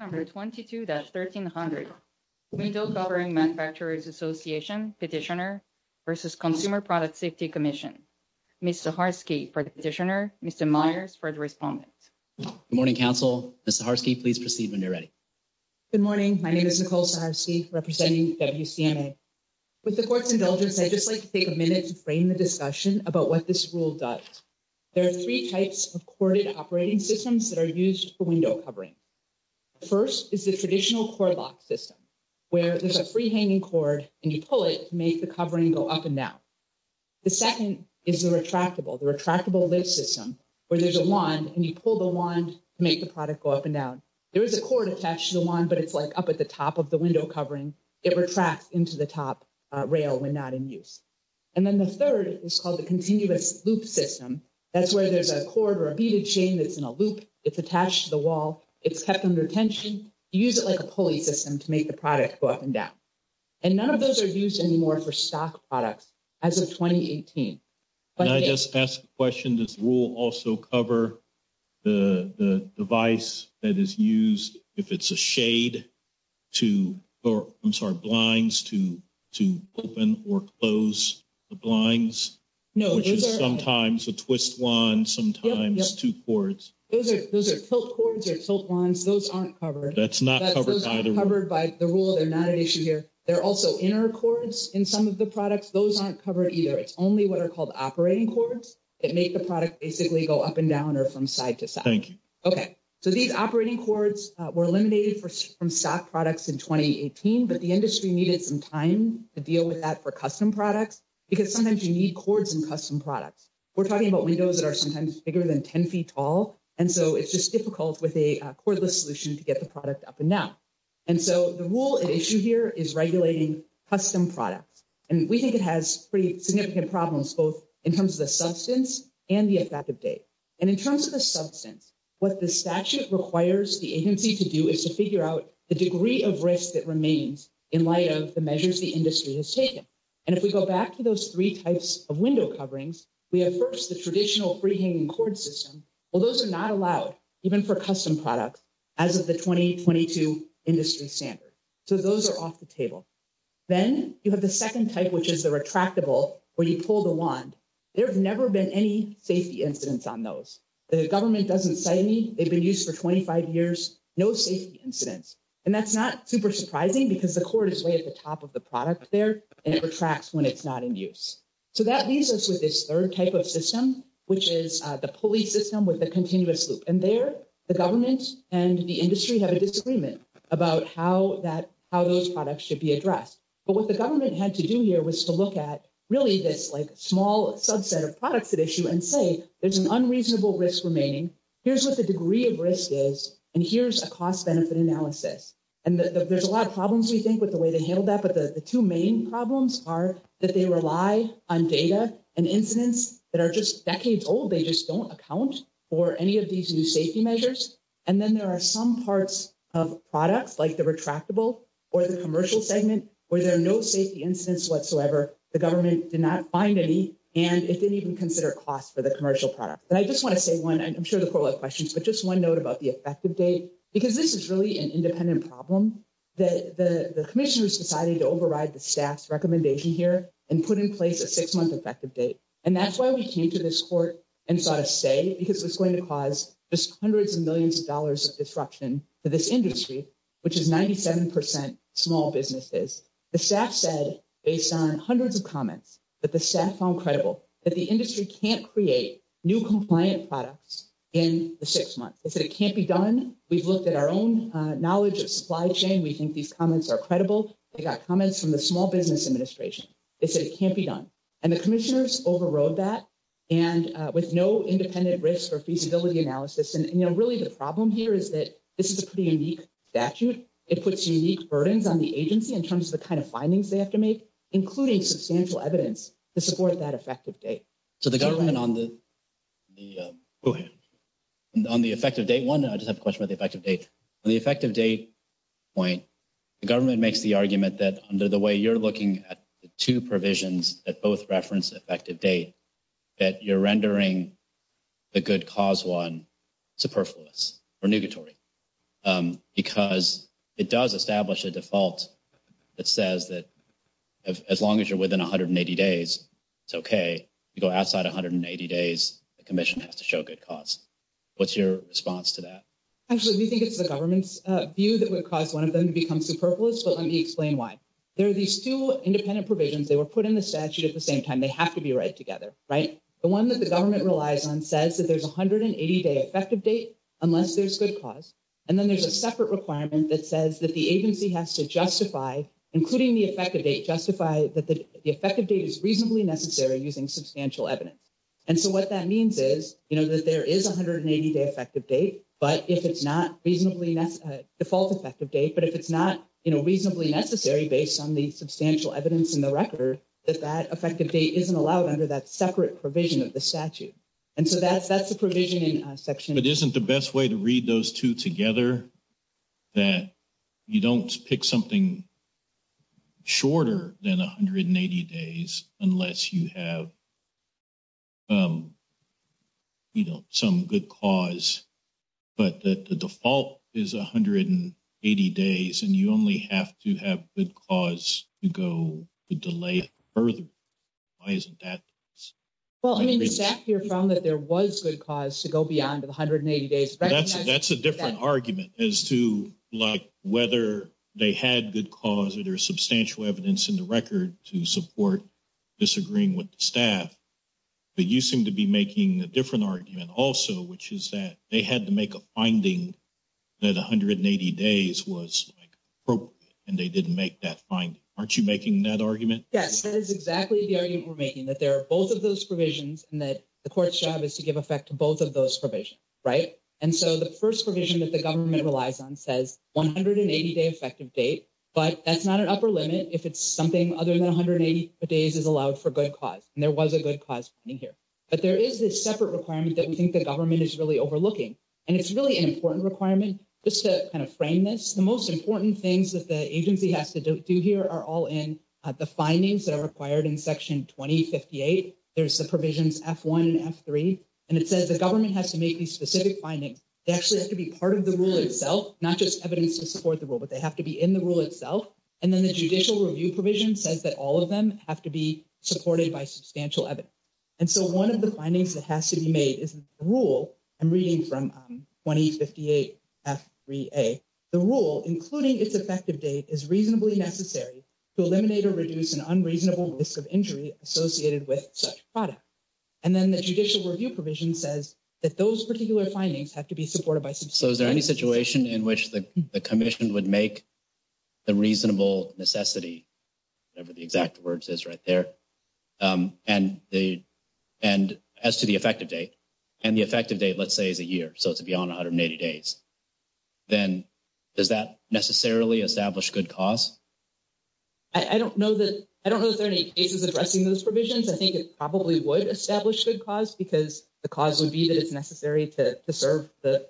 Number 22-1300, Window Covering Manufacturers Association Petitioner v. Consumer Product Safety Commission, Ms. Zaharsky for the petitioner, Mr. Myers for the respondent. Good morning, Council. Ms. Zaharsky, please proceed when you're ready. Good morning. My name is Nicole Zaharsky representing WCMA. With the Court's indulgence, I'd just like to take a minute to frame the discussion about what this rule does. There are three types of corded operating systems that are used for window covering. First is the traditional cord lock system, where there's a free-hanging cord and you pull it to make the covering go up and down. The second is the retractable, the retractable lift system, where there's a wand and you pull the wand to make the product go up and down. There is a cord attached to the wand, but it's like up at the top of the window covering. It retracts into the top rail when not in use. And then the third is called the continuous loop system. That's where there's a cord or a beaded chain that's in a loop. It's attached to the wall. It's kept under tension. You use it like a pulley system to make the product go up and down. And none of those are used anymore for stock products as of 2018. Can I just ask a question? Does the rule also cover the device that is used if it's a shade to, or I'm sorry, blinds to open or close the blinds? No. Which is sometimes a twist wand, sometimes two cords. Those are tilt cords or tilt wands. Those aren't covered. That's not covered by the rule. Those aren't covered by the rule. They're not an issue here. They're also inner cords in some of the products. Those aren't covered either. It's only what are called operating cords that make the product basically go up and down or from side to side. Thank you. Okay. So these operating cords were eliminated from stock products in 2018, but the industry needed some time to deal with that for custom products. Because sometimes you need cords in custom products. We're talking about windows that are sometimes bigger than 10 feet tall. And so it's just difficult with a cordless solution to get the product up and down. And so the rule at issue here is regulating custom products. And we think it has pretty significant problems, both in terms of the substance and the effective date. And in terms of the substance, what the statute requires the agency to do is to figure out the degree of risk that remains in light of the measures the industry has taken. And if we go back to those three types of window coverings, we have first the traditional free-hanging cord system. Well, those are not allowed even for custom products as of the 2022 industry standard. So those are off the table. Then you have the second type, which is the retractable, where you pull the wand. There have never been any safety incidents on those. The government doesn't cite any. They've been used for 25 years. No safety incidents. And that's not super surprising because the cord is way at the top of the product there and it retracts when it's not in use. So that leaves us with this third type of system, which is the pulley system with the continuous loop. And there the government and the industry have a disagreement about how those products should be addressed. But what the government had to do here was to look at really this, like, small subset of products at issue and say, there's an unreasonable risk remaining. Here's what the degree of risk is. And here's a cost-benefit analysis. And there's a lot of problems, we think, with the way they handled that. But the two main problems are that they rely on data and incidents that are just decades old. They just don't account for any of these new safety measures. And then there are some parts of products, like the retractable or the commercial segment, where there are no safety incidents whatsoever. The government did not find any. And it didn't even consider cost for the commercial product. And I just want to say one, I'm sure the court will have questions, but just one note about the effective date. Because this is really an independent problem. The commissioners decided to override the staff's recommendation here and put in place a six-month effective date. And that's why we came to this court and sought a say, because it's going to cause just hundreds of millions of dollars of disruption to this industry, which is 97% small businesses. The staff said, based on hundreds of comments, that the staff found credible that the industry can't create new compliant products in the six months. They said it can't be done. We've looked at our own knowledge of supply chain. We think these comments are credible. They got comments from the Small Business Administration. They said it can't be done. And the commissioners overrode that with no independent risk or feasibility analysis. And, you know, really the problem here is that this is a pretty unique statute. It puts unique burdens on the agency in terms of the kind of findings they have to make, including substantial evidence to support that effective date. So the government on the effective date one, I just have a question about the effective date. On the effective date point, the government makes the argument that under the way you're looking at the two provisions that both reference effective date, that you're rendering the good cause one superfluous or negatory. Because it does establish a default that says that as long as you're within 180 days, it's okay to go outside 180 days. The commission has to show good cause. What's your response to that? Actually, we think it's the government's view that would cause one of them to become superfluous. But let me explain why. There are these two independent provisions. They were put in the statute at the same time. They have to be right together. The one that the government relies on says that there's 180-day effective date unless there's good cause. And then there's a separate requirement that says that the agency has to justify, including the effective date, justify that the effective date is reasonably necessary using substantial evidence. And so what that means is, you know, that there is 180-day effective date. But if it's not reasonably default effective date, but if it's not, you know, reasonably necessary based on the substantial evidence in the record, that that effective date isn't allowed under that separate provision of the statute. And so that's the provision in section. But isn't the best way to read those two together, that you don't pick something shorter than 180 days unless you have, you know, some good cause, but that the default is 180 days and you only have to have good cause to go the delay further? Why isn't that? Well, I mean, the staff here found that there was good cause to go beyond the 180 days. That's a different argument as to like, whether they had good cause or there's substantial evidence in the record to support disagreeing with the staff. But you seem to be making a different argument also, which is that they had to make a finding that 180 days was appropriate and they didn't make that finding. Aren't you making that argument? Yes, that is exactly the argument we're making, that there are both of those provisions and that the court's job is to give effect to both of those provisions, right? And so the first provision that the government relies on says 180 day effective date. But that's not an upper limit if it's something other than 180 days is allowed for good cause. And there was a good cause here. But there is this separate requirement that we think the government is really overlooking. And it's really an important requirement. Just to kind of frame this, the most important things that the agency has to do here are all in the findings that are required in Section 2058. There's the provisions F1 and F3, and it says the government has to make these specific findings. They actually have to be part of the rule itself, not just evidence to support the rule, but they have to be in the rule itself. And then the judicial review provision says that all of them have to be supported by substantial evidence. And so one of the findings that has to be made is the rule I'm reading from 2058 F3A. The rule, including its effective date, is reasonably necessary to eliminate or reduce an unreasonable risk of injury associated with such product. And then the judicial review provision says that those particular findings have to be supported by substantial evidence. So is there any situation in which the commission would make the reasonable necessity, whatever the exact words is right there? And as to the effective date, and the effective date, let's say, is a year. So it's beyond 180 days. Then does that necessarily establish good cause? I don't know that there are any cases addressing those provisions. I think it probably would establish good cause because the cause would be that it's necessary to serve or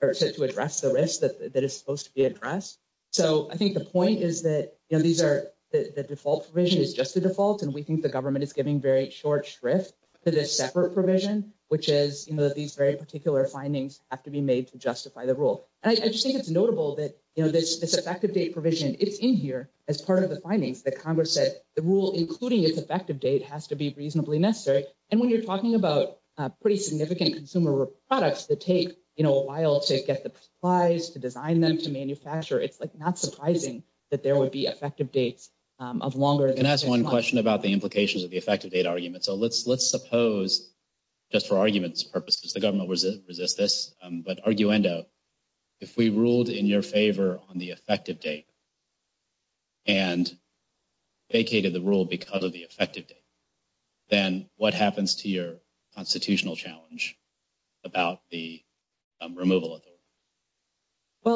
to address the risk that is supposed to be addressed. So I think the point is that the default provision is just the default. And we think the government is giving very short shrift to this separate provision, which is that these very particular findings have to be made to justify the rule. And I just think it's notable that this effective date provision, it's in here as part of the findings that Congress said the rule, including its effective date, has to be reasonably necessary. And when you're talking about pretty significant consumer products that take a while to get the supplies, to design them, to manufacture, it's not surprising that there would be effective dates of longer than six months. Can I ask one question about the implications of the effective date argument? So let's suppose, just for argument's purposes, the government will resist this, but arguendo, if we ruled in your favor on the effective date and vacated the rule because of the effective date, then what happens to your constitutional challenge about the removal of the rule?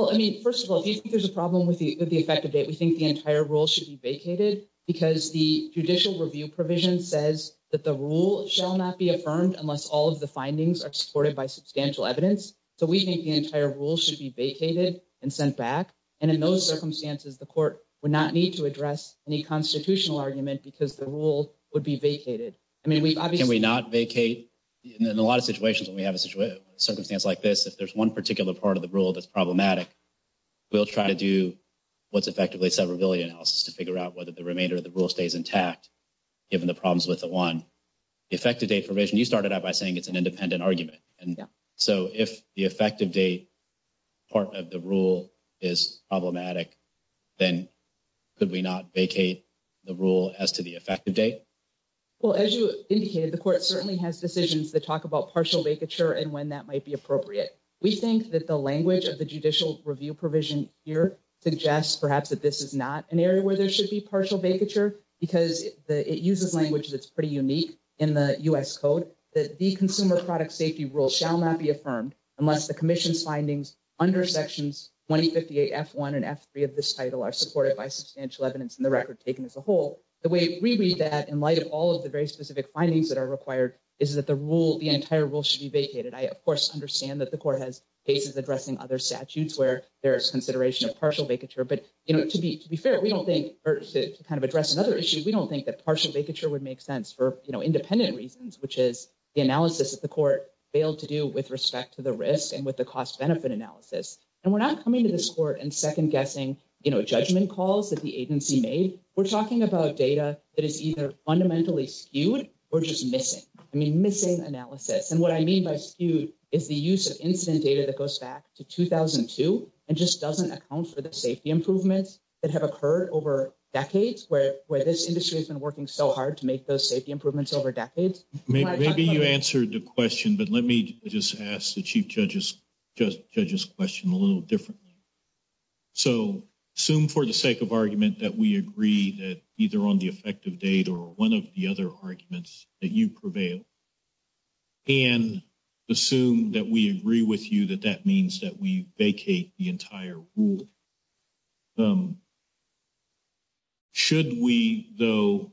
Well, I mean, first of all, if you think there's a problem with the effective date, we think the entire rule should be vacated because the judicial review provision says that the rule shall not be affirmed unless all of the findings are supported by substantial evidence. So we think the entire rule should be vacated and sent back. And in those circumstances, the court would not need to address any constitutional argument because the rule would be vacated. Can we not vacate? In a lot of situations when we have a circumstance like this, if there's one particular part of the rule that's problematic, we'll try to do what's effectively a severability analysis to figure out whether the remainder of the rule stays intact, given the problems with the one. The effective date provision, you started out by saying it's an independent argument. And so if the effective date part of the rule is problematic, then could we not vacate the rule as to the effective date? Well, as you indicated, the court certainly has decisions that talk about partial vacature and when that might be appropriate. We think that the language of the judicial review provision here suggests perhaps that this is not an area where there should be partial vacature because it uses language that's pretty unique in the U.S. So in light of all of the very specific findings that are required is that the rule, the entire rule should be vacated. I, of course, understand that the court has cases addressing other statutes where there is consideration of partial vacature. But to be fair, we don't think to kind of address another issue, we don't think that partial vacature would make sense for independent reasons, which is the analysis that the court failed to do with respect to the risk and with the cost benefit analysis. And we're not coming to this court and second guessing judgment calls that the agency made. We're talking about data that is either fundamentally skewed or just missing. I mean, missing analysis. And what I mean by skewed is the use of incident data that goes back to 2002 and just doesn't account for the safety improvements that have occurred over decades where this industry has been working so hard to make those safety improvements over decades. Maybe you answered the question, but let me just ask the chief judge's question a little differently. So assume for the sake of argument that we agree that either on the effective date or one of the other arguments that you prevail. And assume that we agree with you that that means that we vacate the entire rule. And so, I'm just wondering, should we, though,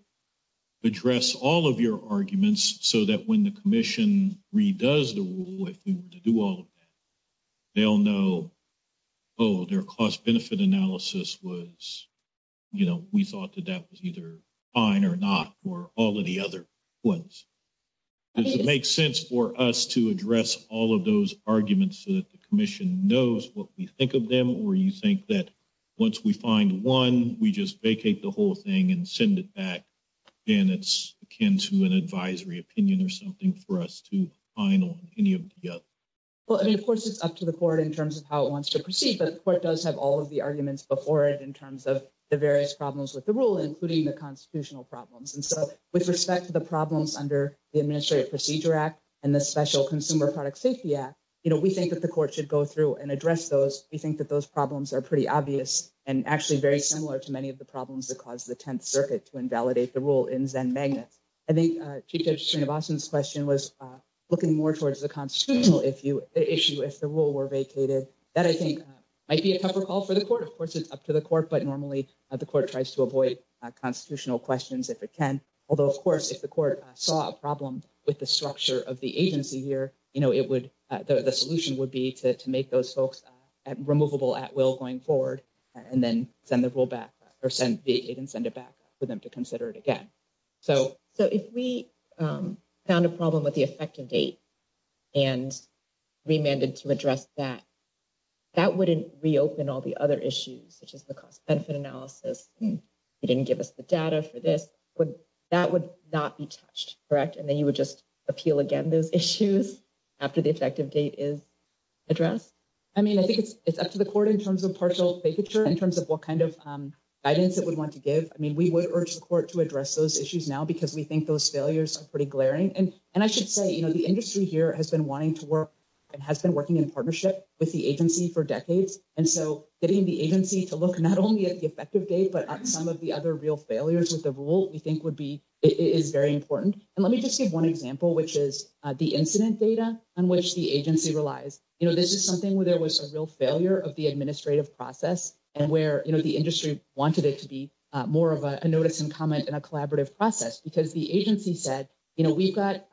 address all of your arguments so that when the commission redoes the rule, if we were to do all of that, they'll know, oh, their cost benefit analysis was, you know, we thought that that was either fine or not for all of the other ones. Does it make sense for us to address all of those arguments so that the commission knows what we think of them or you think that once we find one, we just vacate the whole thing and send it back. And it's akin to an advisory opinion or something for us to find on any of the other. I mean, of course, it's up to the court in terms of how it wants to proceed, but the court does have all of the arguments before it in terms of the various problems with the rule, including the constitutional problems. And so, with respect to the problems under the Administrative Procedure Act, and the Special Consumer Product Safety Act, you know, we think that the court should go through and address those. We think that those problems are pretty obvious and actually very similar to many of the problems that caused the Tenth Circuit to invalidate the rule in Zen Magnets. I think Chief Judge Srinivasan's question was looking more towards the constitutional issue if the rule were vacated. That, I think, might be a tougher call for the court. Of course, it's up to the court, but normally the court tries to avoid constitutional questions if it can. Although, of course, if the court saw a problem with the structure of the agency here, you know, it would, the solution would be to make those folks removable at will going forward and then send the rule back or send it and send it back for them to consider it again. So, if we found a problem with the effective date and remanded to address that, that wouldn't reopen all the other issues, such as the cost-benefit analysis. You didn't give us the data for this. That would not be touched, correct? And then you would just appeal again those issues after the effective date is addressed? I mean, I think it's up to the court in terms of partial vacature, in terms of what kind of guidance it would want to give. I mean, we would urge the court to address those issues now because we think those failures are pretty glaring. And I should say, you know, the industry here has been wanting to work and has been working in partnership with the agency for decades. And so getting the agency to look not only at the effective date, but at some of the other real failures with the rule we think would be, is very important. And let me just give one example, which is the incident data on which the agency relies. You know, this is something where there was a real failure of the administrative process and where, you know, the industry wanted it to be more of a notice and comment and a collaborative process. Because the agency said, you know, we've got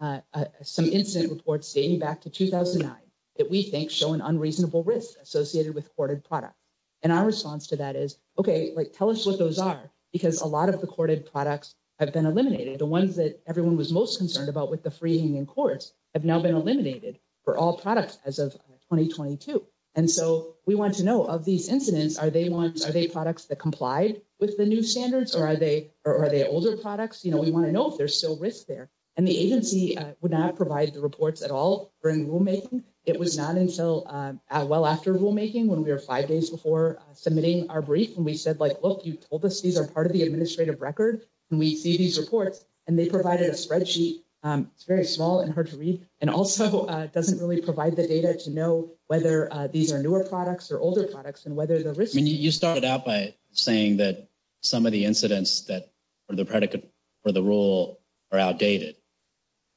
some incident reports dating back to 2009 that we think show an unreasonable risk associated with courted products. And our response to that is, okay, like, tell us what those are, because a lot of the courted products have been eliminated. The ones that everyone was most concerned about with the freeing in courts have now been eliminated for all products as of 2022. And so we want to know of these incidents, are they ones, are they products that complied with the new standards or are they older products? You know, we want to know if there's still risk there. And the agency would not provide the reports at all during rulemaking. It was not until well after rulemaking when we were five days before submitting our brief. And we said, like, look, you told us these are part of the administrative record. And we see these reports and they provided a spreadsheet. It's very small and hard to read. And also doesn't really provide the data to know whether these are newer products or older products and whether the risk. I mean, you started out by saying that some of the incidents that are the predicate for the rule are outdated.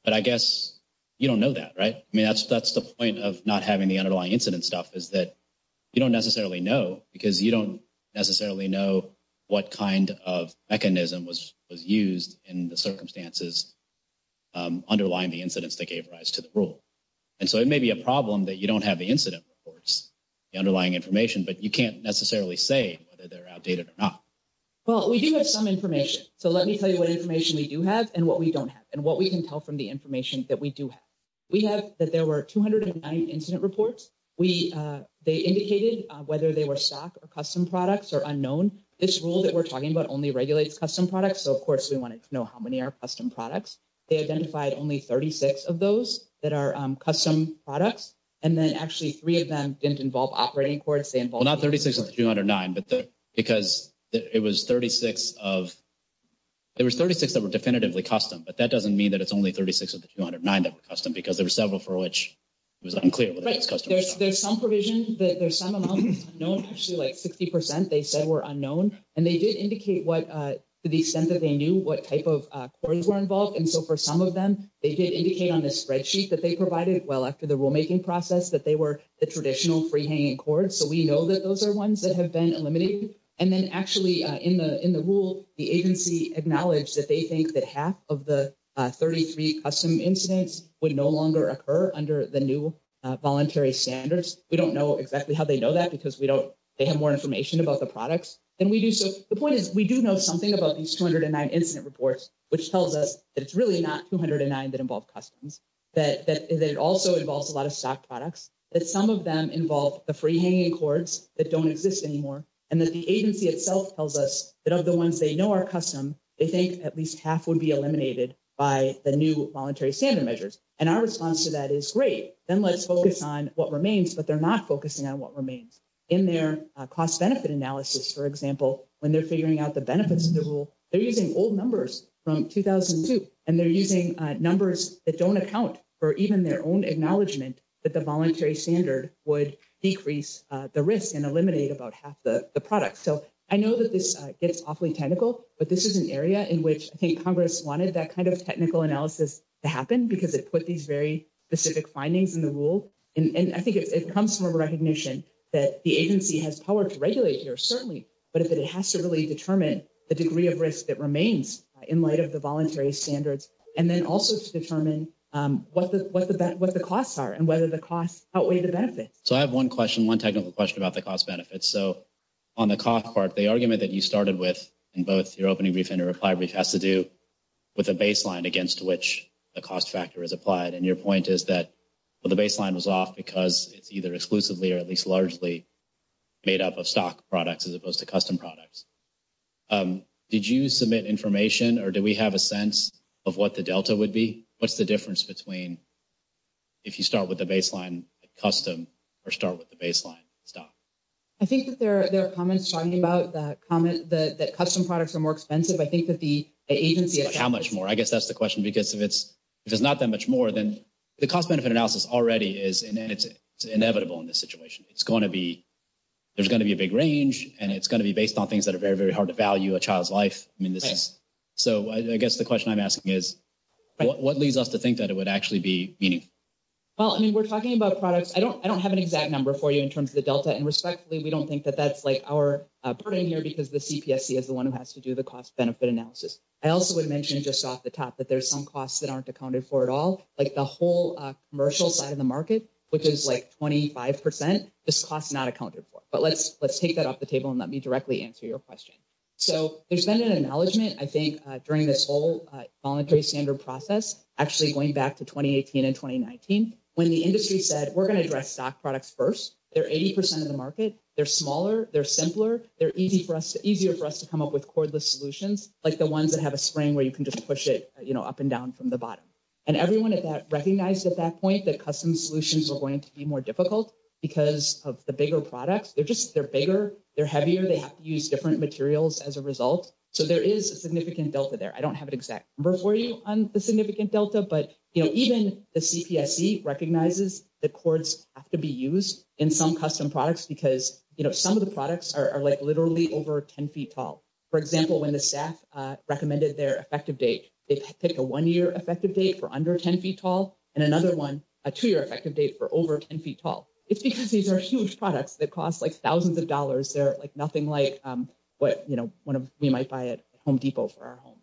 But I guess you don't know that, right? I mean, that's the point of not having the underlying incident stuff is that you don't necessarily know, because you don't necessarily know what kind of mechanism was used in the circumstances underlying the incidents that gave rise to the rule. And so it may be a problem that you don't have the incident reports, the underlying information, but you can't necessarily say whether they're outdated or not. Well, we do have some information. So let me tell you what information we do have and what we don't have and what we can tell from the information that we do have. We have that there were 209 incident reports. We they indicated whether they were stock or custom products or unknown. This rule that we're talking about only regulates custom products. So, of course, we wanted to know how many are custom products. They identified only 36 of those that are custom products. And then actually three of them didn't involve operating courts. Well, not 36 of the 209, but because it was 36 of there was 36 that were definitively custom. But that doesn't mean that it's only 36 of the 209 that were custom because there were several for which it was unclear whether it was custom or not. There's some provision that there's some amount that's unknown, actually like 60 percent they said were unknown. And they did indicate what to the extent that they knew what type of courts were involved. And so for some of them, they did indicate on the spreadsheet that they provided well after the rulemaking process that they were the traditional free hanging courts. So we know that those are ones that have been eliminated. And then actually in the in the rule, the agency acknowledged that they think that half of the 33 custom incidents would no longer occur under the new voluntary standards. We don't know exactly how they know that because we don't they have more information about the products than we do. So the point is, we do know something about these 209 incident reports, which tells us that it's really not 209 that involve customs. That it also involves a lot of stock products. That some of them involve the free hanging courts that don't exist anymore. And that the agency itself tells us that of the ones they know are custom, they think at least half would be eliminated by the new voluntary standard measures. And our response to that is great. Then let's focus on what remains. But they're not focusing on what remains. In their cost benefit analysis, for example, when they're figuring out the benefits of the rule, they're using old numbers from 2002. And they're using numbers that don't account for even their own acknowledgement that the voluntary standard would decrease the risk and eliminate about half the product. So I know that this gets awfully technical, but this is an area in which I think Congress wanted that kind of technical analysis to happen because it put these very specific findings in the rule. And I think it comes from a recognition that the agency has power to regulate here, certainly. But it has to really determine the degree of risk that remains in light of the voluntary standards. And then also to determine what the costs are and whether the costs outweigh the benefits. So I have one question, one technical question about the cost benefits. So on the cost part, the argument that you started with in both your opening brief and your reply brief has to do with the baseline against which the cost factor is applied. And your point is that the baseline was off because it's either exclusively or at least largely made up of stock products as opposed to custom products. Did you submit information or do we have a sense of what the delta would be? What's the difference between if you start with the baseline custom or start with the baseline stock? I think that there are comments talking about that comment that custom products are more expensive. How much more? I guess that's the question because if it's not that much more, then the cost benefit analysis already is inevitable in this situation. It's going to be there's going to be a big range and it's going to be based on things that are very, very hard to value a child's life. So I guess the question I'm asking is what leads us to think that it would actually be meaningful? Well, I mean, we're talking about products. I don't I don't have an exact number for you in terms of the delta. And respectfully, we don't think that that's like our burden here because the CPSC is the one who has to do the cost benefit analysis. I also would mention just off the top that there's some costs that aren't accounted for at all, like the whole commercial side of the market, which is like twenty five percent. This cost is not accounted for. But let's let's take that off the table and let me directly answer your question. So there's been an acknowledgement, I think, during this whole voluntary standard process, actually going back to twenty eighteen and twenty nineteen. When the industry said we're going to address stock products first, they're 80 percent of the market. They're smaller. They're simpler. They're easy for us, easier for us to come up with cordless solutions like the ones that have a spring where you can just push it up and down from the bottom. And everyone at that recognized at that point that custom solutions are going to be more difficult because of the bigger products. They're just they're bigger. They're heavier. They have to use different materials as a result. So there is a significant delta there. I don't have an exact number for you on the significant delta. But, you know, even the CPC recognizes the courts have to be used in some custom products because, you know, some of the products are like literally over 10 feet tall. For example, when the staff recommended their effective date, they picked a one year effective date for under 10 feet tall and another one, a two year effective date for over 10 feet tall. It's because these are huge products that cost like thousands of dollars. They're like nothing like what, you know, one of we might buy at Home Depot for our homes.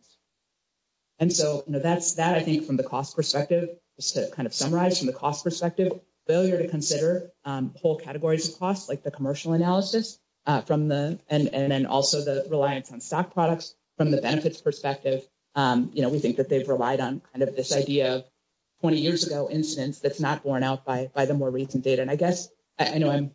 And so, you know, that's that, I think, from the cost perspective, just to kind of summarize from the cost perspective, failure to consider whole categories of costs like the commercial analysis from the and then also the reliance on stock products from the benefits perspective. We think that they've relied on kind of this idea of 20 years ago instance that's not borne out by the more recent data. And I guess I know I'm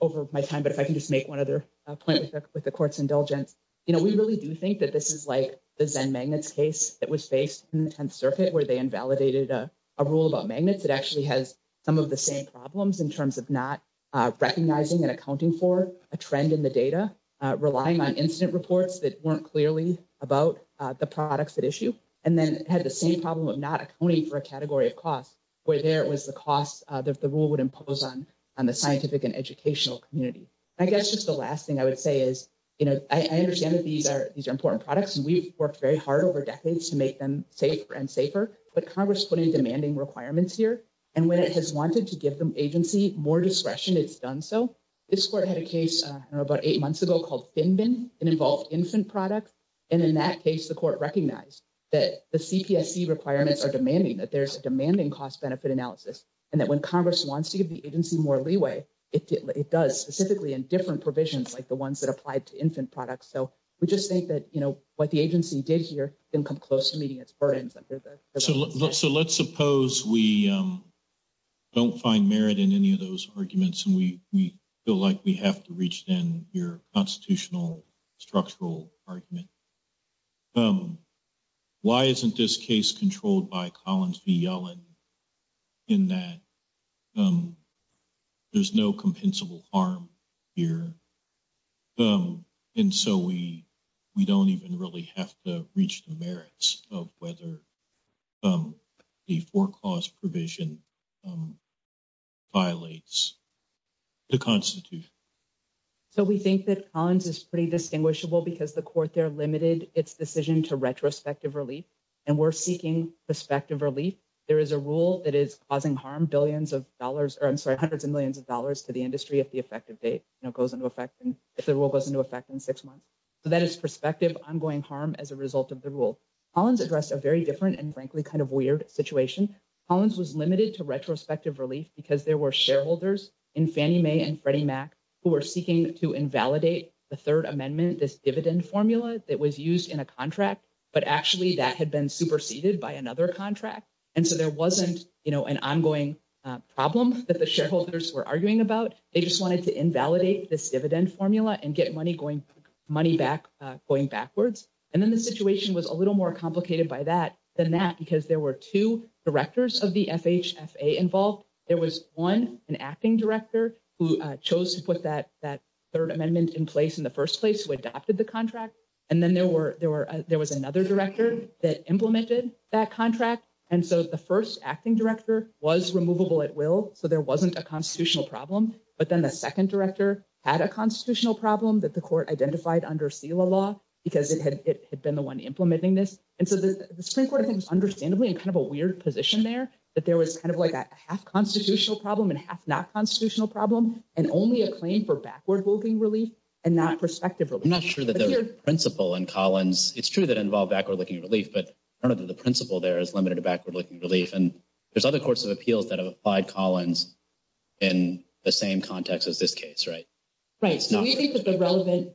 over my time, but if I can just make one other point with the court's indulgence, you know, we really do think that this is like the Zen Magnets case that was faced in the 10th Circuit where they invalidated a rule about magnets. It actually has some of the same problems in terms of not recognizing and accounting for a trend in the data, relying on incident reports that weren't clearly about the products that issue. And then had the same problem of not accounting for a category of cost where there was the cost that the rule would impose on on the scientific and educational community. I guess just the last thing I would say is, you know, I understand that these are these are important products and we've worked very hard over decades to make them safer and safer. But Congress putting demanding requirements here, and when it has wanted to give them agency more discretion, it's done. So this court had a case about eight months ago called Finbin and involved infant products. And in that case, the court recognized that the CPSC requirements are demanding that there's a demanding cost benefit analysis. And that when Congress wants to give the agency more leeway, it does specifically in different provisions like the ones that applied to infant products. So we just think that, you know, what the agency did here didn't come close to meeting its burdens. So let's suppose we don't find merit in any of those arguments and we feel like we have to reach in your constitutional structural argument. Why isn't this case controlled by Collins v. Yellen in that there's no compensable harm here? And so we we don't even really have to reach the merits of whether the foreclosed provision violates the Constitution. So we think that Collins is pretty distinguishable because the court there limited its decision to retrospective relief and we're seeking prospective relief. There is a rule that is causing harm, billions of dollars, or I'm sorry, hundreds of millions of dollars to the industry if the effective date, you know, goes into effect and if the rule goes into effect in six months. So that is prospective ongoing harm as a result of the rule. Collins addressed a very different and frankly kind of weird situation. Collins was limited to retrospective relief because there were shareholders in Fannie Mae and Freddie Mac who were seeking to invalidate the Third Amendment, this dividend formula that was used in a contract. But actually that had been superseded by another contract. And so there wasn't, you know, an ongoing problem that the shareholders were arguing about. They just wanted to invalidate this dividend formula and get money going money back going backwards. And then the situation was a little more complicated by that than that, because there were two directors of the FHFA involved. There was one, an acting director, who chose to put that Third Amendment in place in the first place, who adopted the contract. And then there was another director that implemented that contract. And so the first acting director was removable at will, so there wasn't a constitutional problem. But then the second director had a constitutional problem that the court identified under SELA law because it had been the one implementing this. And so the Supreme Court, I think, is understandably in kind of a weird position there, that there was kind of like a half constitutional problem and half not constitutional problem and only a claim for backward looking relief and not prospective relief. I'm not sure that the principle in Collins, it's true that involved backward looking relief, but part of the principle there is limited to backward looking relief. And there's other courts of appeals that have applied Collins in the same context as this case, right? Right, so we think that the relevant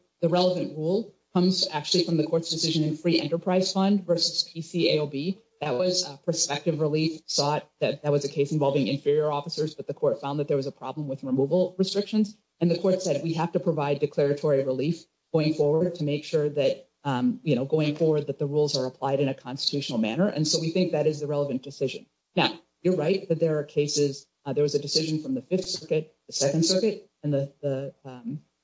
rule comes actually from the court's decision in Free Enterprise Fund versus PCAOB. That was prospective relief sought, that was a case involving inferior officers, but the court found that there was a problem with removal restrictions. And the court said, we have to provide declaratory relief going forward to make sure that, you know, going forward that the rules are applied in a constitutional manner. And so we think that is the relevant decision. Now, you're right that there are cases, there was a decision from the Fifth Circuit, the Second Circuit, and the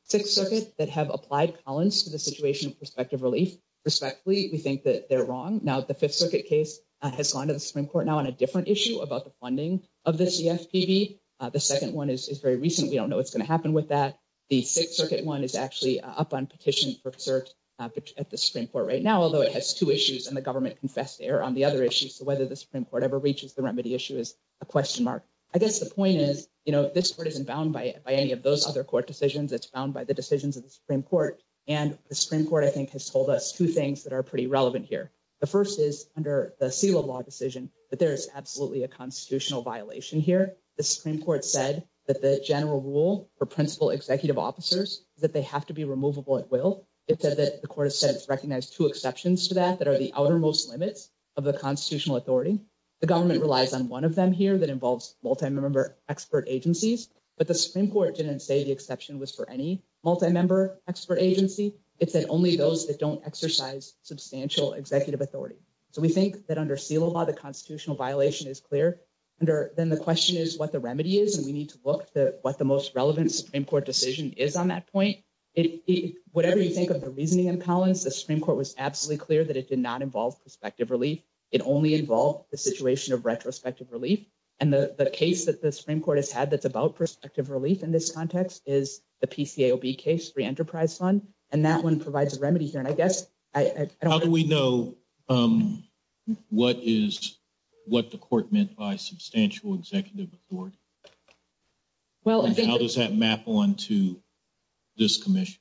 Sixth Circuit that have applied Collins to the situation of prospective relief. Respectfully, we think that they're wrong. Now, the Fifth Circuit case has gone to the Supreme Court now on a different issue about the funding of the CFPB. The second one is very recent. We don't know what's going to happen with that. The Sixth Circuit one is actually up on petition for cert at the Supreme Court right now, although it has two issues and the government confessed error on the other issues. So whether the Supreme Court ever reaches the remedy issue is a question mark. I guess the point is, you know, this court isn't bound by any of those other court decisions. It's bound by the decisions of the Supreme Court. And the Supreme Court, I think, has told us two things that are pretty relevant here. The first is under the seal of law decision that there is absolutely a constitutional violation here. The Supreme Court said that the general rule for principal executive officers is that they have to be removable at will. It said that the court has since recognized two exceptions to that that are the outermost limits of the constitutional authority. The government relies on one of them here that involves multi-member expert agencies. But the Supreme Court didn't say the exception was for any multi-member expert agency. It said only those that don't exercise substantial executive authority. So we think that under seal of law, the constitutional violation is clear. Then the question is what the remedy is. And we need to look at what the most relevant Supreme Court decision is on that point. Whatever you think of the reasoning in Collins, the Supreme Court was absolutely clear that it did not involve prospective relief. It only involved the situation of retrospective relief. And the case that the Supreme Court has had that's about prospective relief in this context is the PCAOB case, free enterprise fund. And that one provides a remedy here. How do we know what the court meant by substantial executive authority? How does that map on to this commission?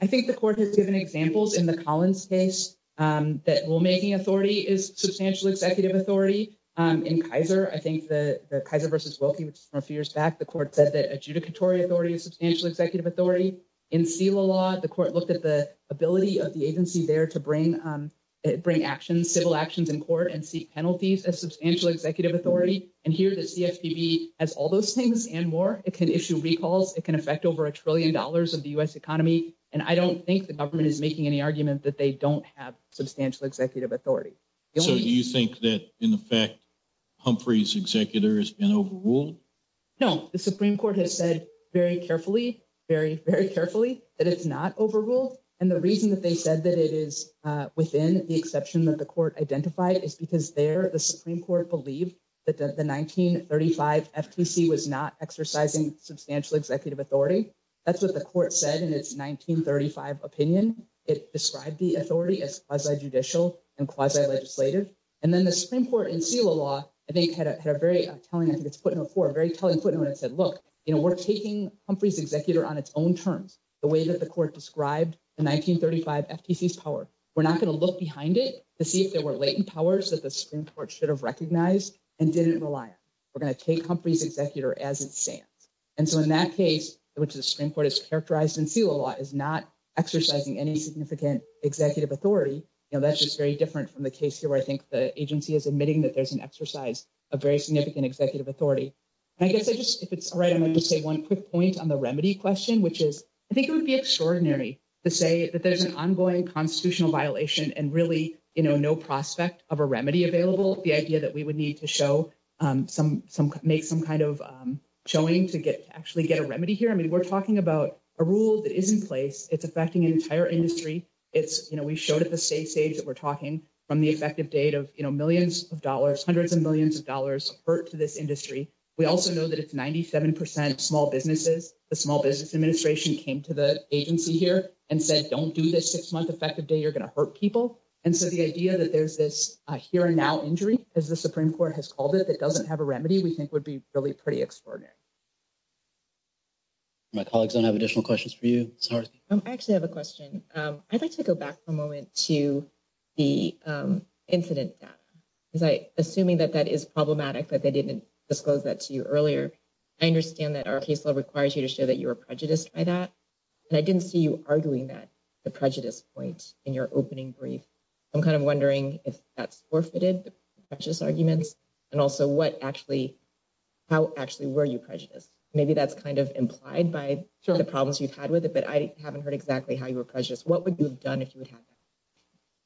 I think the court has given examples in the Collins case that rulemaking authority is substantial executive authority. In Kaiser, I think the Kaiser v. Wilkie, which is from a few years back, the court said that adjudicatory authority is substantial executive authority. In seal of law, the court looked at the ability of the agency there to bring actions, civil actions in court and seek penalties as substantial executive authority. And here the CFPB has all those things and more. It can issue recalls. It can affect over a trillion dollars of the U.S. economy. And I don't think the government is making any argument that they don't have substantial executive authority. So do you think that, in effect, Humphrey's executor has been overruled? No, the Supreme Court has said very carefully, very, very carefully that it's not overruled. And the reason that they said that it is within the exception that the court identified is because there the Supreme Court believed that the 1935 FTC was not exercising substantial executive authority. That's what the court said in its 1935 opinion. It described the authority as quasi-judicial and quasi-legislative. And then the Supreme Court in seal of law, I think, had a very telling, I think it's put in a four, a very telling put in when it said, look, you know, we're taking Humphrey's executor on its own terms, the way that the court described the 1935 FTC's power. We're not going to look behind it to see if there were latent powers that the Supreme Court should have recognized and didn't rely on. We're going to take Humphrey's executor as it stands. And so in that case, which the Supreme Court has characterized in seal of law, is not exercising any significant executive authority. You know, that's just very different from the case here where I think the agency is admitting that there's an exercise of very significant executive authority. I guess I just, if it's all right, I'm going to say one quick point on the remedy question, which is, I think it would be extraordinary to say that there's an ongoing constitutional violation and really, you know, no prospect of a remedy available. The idea that we would need to show some, make some kind of showing to get to actually get a remedy here. I mean, we're talking about a rule that is in place. It's affecting an entire industry. It's, you know, we showed at the state stage that we're talking from the effective date of, you know, millions of dollars, hundreds of millions of dollars hurt to this industry. We also know that it's 97% of small businesses. The Small Business Administration came to the agency here and said, don't do this six-month effective date. You're going to hurt people. And so the idea that there's this here and now injury, as the Supreme Court has called it, that doesn't have a remedy, we think would be really pretty extraordinary. My colleagues don't have additional questions for you. I actually have a question. I'd like to go back for a moment to the incident data. Assuming that that is problematic, that they didn't disclose that to you earlier. I understand that our case law requires you to show that you were prejudiced by that. And I didn't see you arguing that, the prejudice point in your opening brief. I'm kind of wondering if that's forfeited, the prejudice arguments, and also what actually, how actually were you prejudiced? Maybe that's kind of implied by the problems you've had with it. But I haven't heard exactly how you were prejudiced. What would you have done if you would have?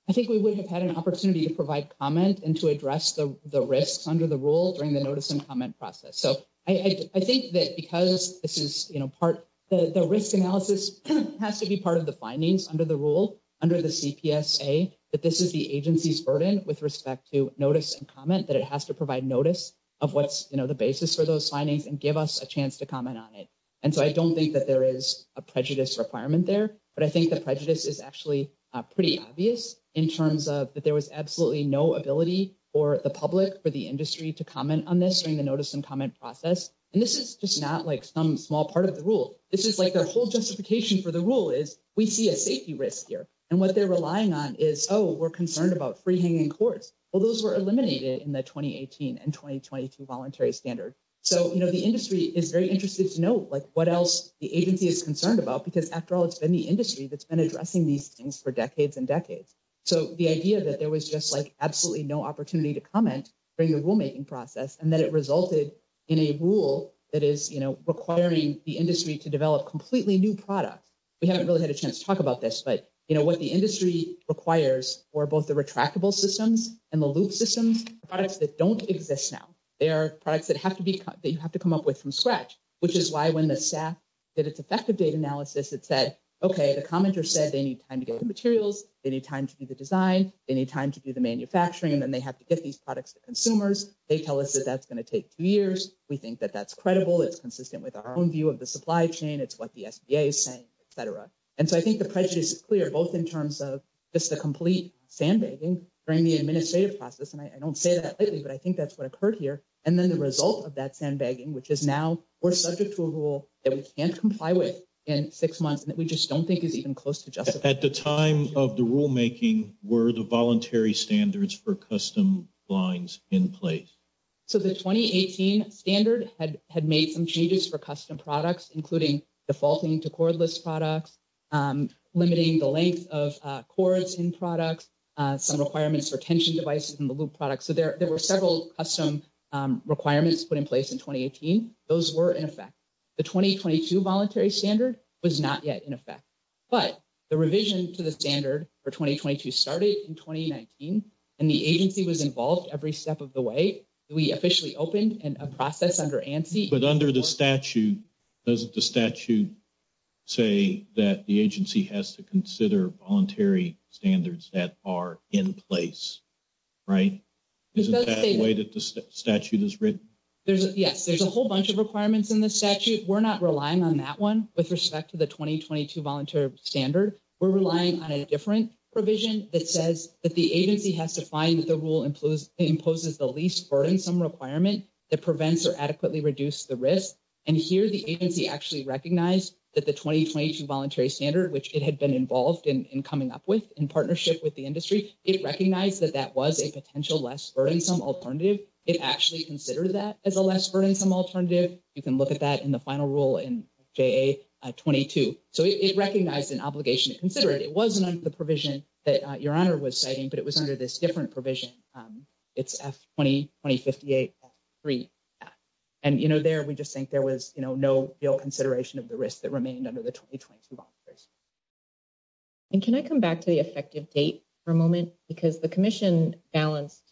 I think we would have had an opportunity to provide comment and to address the risks under the rule during the notice and comment process. So I think that because this is part, the risk analysis has to be part of the findings under the rule, under the CPSA, that this is the agency's burden with respect to notice and comment. That it has to provide notice of what's the basis for those findings and give us a chance to comment on it. And so I don't think that there is a prejudice requirement there. But I think the prejudice is actually pretty obvious in terms of that there was absolutely no ability for the public, for the industry to comment on this during the notice and comment process. And this is just not like some small part of the rule. This is like the whole justification for the rule is we see a safety risk here. And what they're relying on is, oh, we're concerned about free-hanging cords. Well, those were eliminated in the 2018 and 2022 voluntary standard. So the industry is very interested to know what else the agency is concerned about because, after all, it's been the industry that's been addressing these things for decades and decades. So the idea that there was just absolutely no opportunity to comment during the rulemaking process and that it resulted in a rule that is requiring the industry to develop completely new products. We haven't really had a chance to talk about this. But what the industry requires for both the retractable systems and the loop systems are products that don't exist now. They are products that you have to come up with from scratch, which is why when the staff did its effective data analysis, it said, okay, the commenter said they need time to get the materials, they need time to do the design, they need time to do the manufacturing, and then they have to get these products to consumers. They tell us that that's going to take two years. We think that that's credible. It's consistent with our own view of the supply chain. It's what the SBA is saying, et cetera. And so I think the prejudice is clear, both in terms of just the complete sandbagging during the administrative process. And I don't say that lately, but I think that's what occurred here. And then the result of that sandbagging, which is now we're subject to a rule that we can't comply with in six months and that we just don't think is even close to justice. At the time of the rulemaking, were the voluntary standards for custom lines in place? So the 2018 standard had made some changes for custom products, including defaulting to cordless products, limiting the length of cords in products, some requirements for tension devices in the loop products. So there were several custom requirements put in place in 2018. Those were in effect. The 2022 voluntary standard was not yet in effect. But the revision to the standard for 2022 started in 2019, and the agency was involved every step of the way. We officially opened a process under ANSI. But under the statute, doesn't the statute say that the agency has to consider voluntary standards that are in place, right? Isn't that the way that the statute is written? Yes, there's a whole bunch of requirements in the statute. We're not relying on that one with respect to the 2022 voluntary standard. We're relying on a different provision that says that the agency has to find that the rule imposes the least burdensome requirement that prevents or adequately reduce the risk. And here the agency actually recognized that the 2022 voluntary standard, which it had been involved in coming up with in partnership with the industry, it recognized that that was a potential less burdensome alternative. It actually considered that as a less burdensome alternative. You can look at that in the final rule in JA-22. So it recognized an obligation to consider it. It wasn't under the provision that Your Honor was citing, but it was under this different provision. It's F-20-2058-3. And, you know, there we just think there was, you know, no real consideration of the risk that remained under the 2022 voluntary standard. And can I come back to the effective date for a moment? Because the commission balanced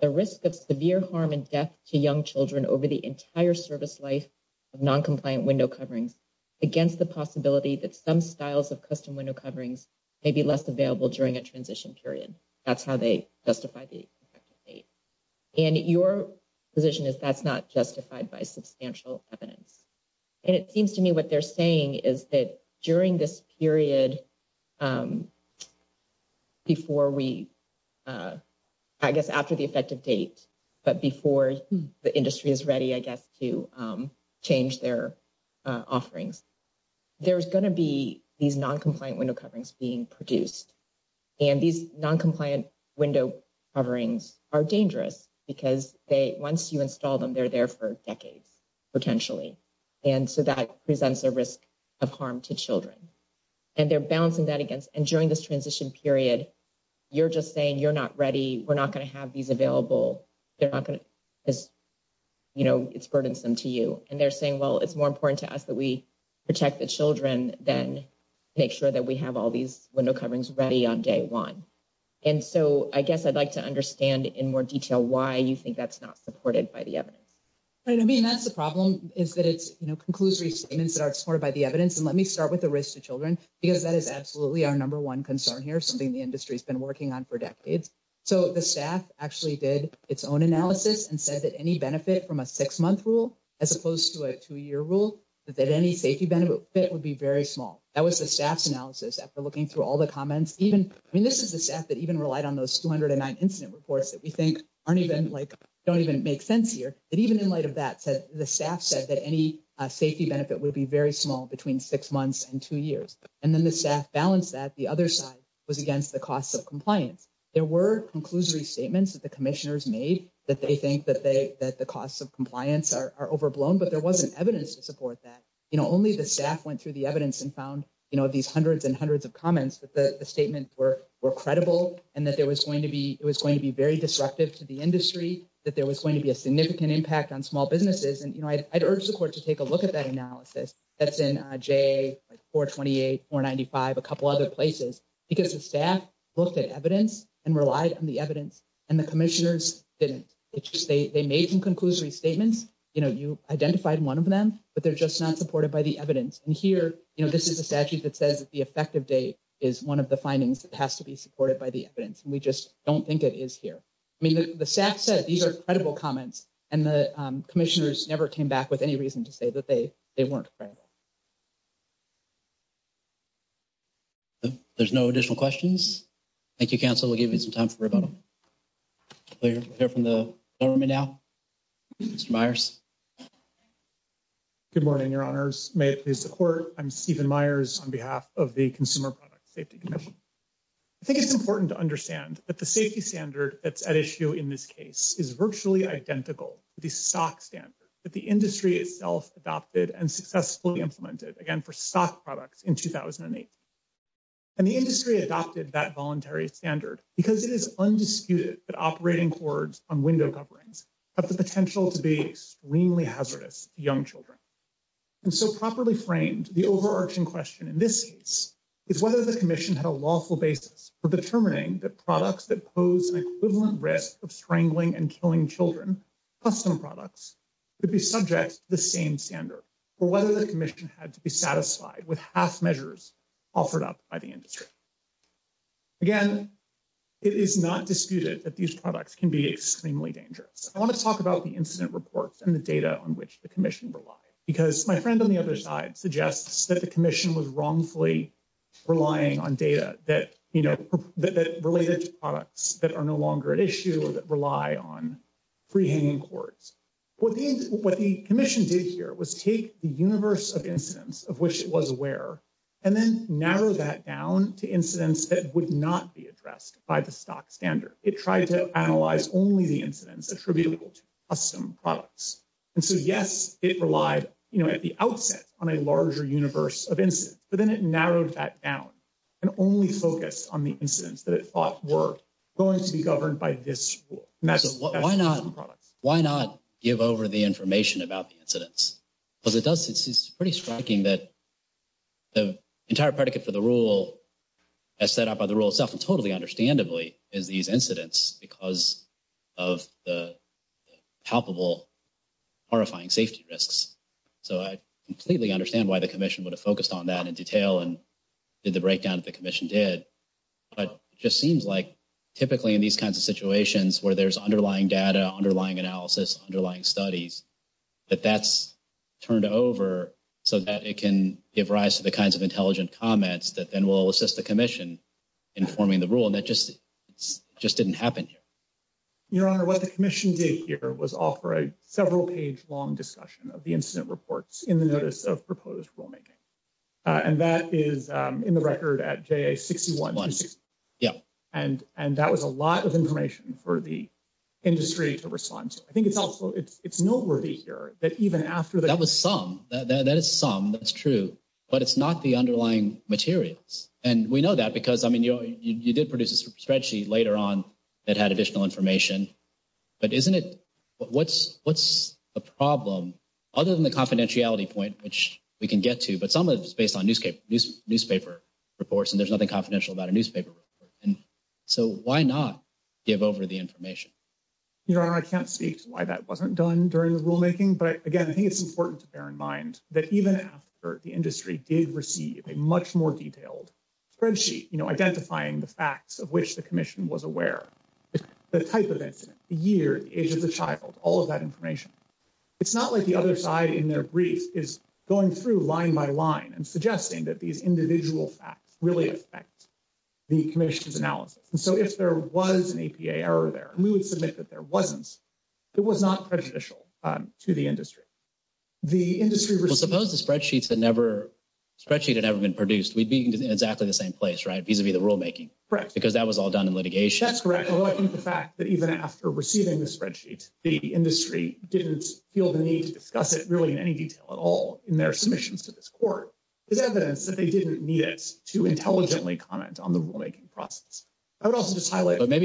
the risk of severe harm and death to young children over the entire service life of noncompliant window coverings against the possibility that some styles of custom window coverings may be less available during a transition period. That's how they justify the effective date. And your position is that's not justified by substantial evidence. And it seems to me what they're saying is that during this period, before we, I guess, after the effective date, but before the industry is ready, I guess, to change their offerings, there's going to be these noncompliant window coverings being produced. And these noncompliant window coverings are dangerous because they, once you install them, they're there for decades, potentially. And so that presents a risk of harm to children. And they're balancing that against, and during this transition period, you're just saying you're not ready, we're not going to have these available, they're not going to, you know, it's burdensome to you. And they're saying, well, it's more important to us that we protect the children than make sure that we have all these window coverings ready on day one. And so I guess I'd like to understand in more detail why you think that's not supported by the evidence. I mean, that's the problem is that it's, you know, conclusory statements that are supported by the evidence. And let me start with the risk to children, because that is absolutely our number one concern here, something the industry has been working on for decades. So the staff actually did its own analysis and said that any benefit from a six-month rule, as opposed to a two-year rule, that any safety benefit would be very small. That was the staff's analysis after looking through all the comments. I mean, this is the staff that even relied on those 209 incident reports that we think aren't even, like, don't even make sense here. And even in light of that, the staff said that any safety benefit would be very small between six months and two years. And then the staff balanced that. The other side was against the costs of compliance. There were conclusory statements that the commissioners made that they think that the costs of compliance are overblown, but there wasn't evidence to support that. You know, only the staff went through the evidence and found, you know, these hundreds and hundreds of comments that the statements were credible and that it was going to be very disruptive to the industry, that there was going to be a significant impact on small businesses. And, you know, I'd urge the court to take a look at that analysis that's in J428, 495, a couple other places, because the staff looked at evidence and relied on the evidence, and the commissioners didn't. They made some conclusory statements. You know, you identified one of them, but they're just not supported by the evidence. And here, you know, this is a statute that says that the effective date is one of the findings that has to be supported by the evidence. And we just don't think it is here. I mean, the staff said these are credible comments, and the commissioners never came back with any reason to say that they weren't credible. There's no additional questions. Thank you, counsel. We'll give you some time for rebuttal. We'll hear from the government now. Mr. Myers. Good morning, Your Honors. May it please the court. I'm Stephen Myers on behalf of the Consumer Product Safety Commission. I think it's important to understand that the safety standard that's at issue in this case is virtually identical to the stock standard that the industry itself adopted and successfully implemented, again, for stock products in 2008. And the industry adopted that voluntary standard because it is undisputed that operating cords on window coverings have the potential to be extremely hazardous to young children. And so properly framed, the overarching question in this case is whether the commission had a lawful basis for determining that products that pose an equivalent risk of strangling and killing children, custom products, would be subject to the same standard, or whether the commission had to be satisfied with half measures offered up by the industry. Again, it is not disputed that these products can be extremely dangerous. I want to talk about the incident reports and the data on which the commission relied. Because my friend on the other side suggests that the commission was wrongfully relying on data that, you know, related to products that are no longer at issue or that rely on free-hanging cords. What the commission did here was take the universe of incidents of which it was aware and then narrow that down to incidents that would not be addressed by the stock standard. It tried to analyze only the incidents attributable to custom products. And so, yes, it relied, you know, at the outset on a larger universe of incidents, but then it narrowed that down and only focused on the incidents that it thought were going to be governed by this rule. Why not give over the information about the incidents? Because it does, it's pretty striking that the entire predicate for the rule as set up by the rule itself and totally understandably is these incidents because of the palpable horrifying safety risks. So, I completely understand why the commission would have focused on that in detail and did the breakdown that the commission did. But it just seems like typically in these kinds of situations where there's underlying data, underlying analysis, underlying studies, that that's turned over so that it can give rise to the kinds of intelligent comments that then will assist the commission in forming the rule. And that just didn't happen here. Your Honor, what the commission did here was offer a several page long discussion of the incident reports in the notice of proposed rulemaking. And that is in the record at JA61. Yeah. And that was a lot of information for the industry to respond to. I think it's also, it's noteworthy here that even after that. That was some, that is some, that's true. But it's not the underlying materials. And we know that because, I mean, you did produce a spreadsheet later on that had additional information. But isn't it, what's the problem other than the confidentiality point, which we can get to, but some of it is based on newspaper reports and there's nothing confidential about a newspaper report. And so why not give over the information? Your Honor, I can't speak to why that wasn't done during the rulemaking. But again, I think it's important to bear in mind that even after the industry did receive a much more detailed spreadsheet, you know, identifying the facts of which the commission was aware. The type of incident, the year, the age of the child, all of that information. It's not like the other side in their brief is going through line by line and suggesting that these individual facts really affect the commission's analysis. And so if there was an APA error there, we would submit that there wasn't. It was not prejudicial to the industry. The industry was supposed to spreadsheets that never spreadsheet had ever been produced. We'd be exactly the same place, right? These would be the rulemaking, correct? Because that was all done in litigation. That's correct. Maybe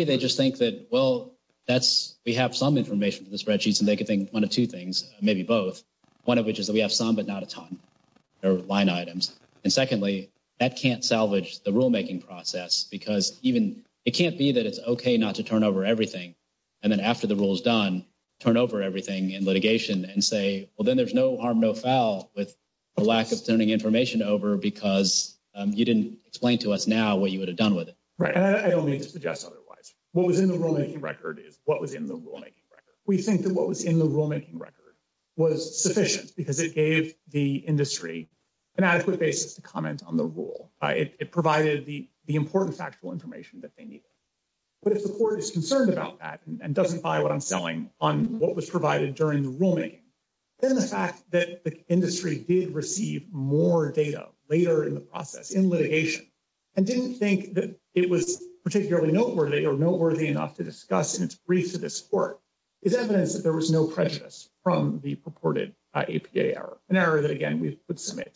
they just think that, well, that's we have some information to the spreadsheets and they could think one of two things, maybe both. One of which is that we have some, but not a ton or line items. And secondly, that can't salvage the rulemaking process because even it can't be that it's OK not to turn over everything. And then after the rule is done, turn over everything in litigation and say, well, then there's no harm, no foul with the lack of turning information over because you didn't explain to us now what you would have done with it. I don't mean to suggest otherwise. What was in the rulemaking record is what was in the rulemaking record. We think that what was in the rulemaking record was sufficient because it gave the industry an adequate basis to comment on the rule. It provided the important factual information that they needed. But if the court is concerned about that and doesn't buy what I'm selling on what was provided during the rulemaking, then the fact that the industry did receive more data later in the process, in litigation, and didn't think that it was particularly noteworthy or noteworthy enough to discuss in its briefs to this court, is evidence that there was no prejudice from the purported APA error. An error that, again, we would submit.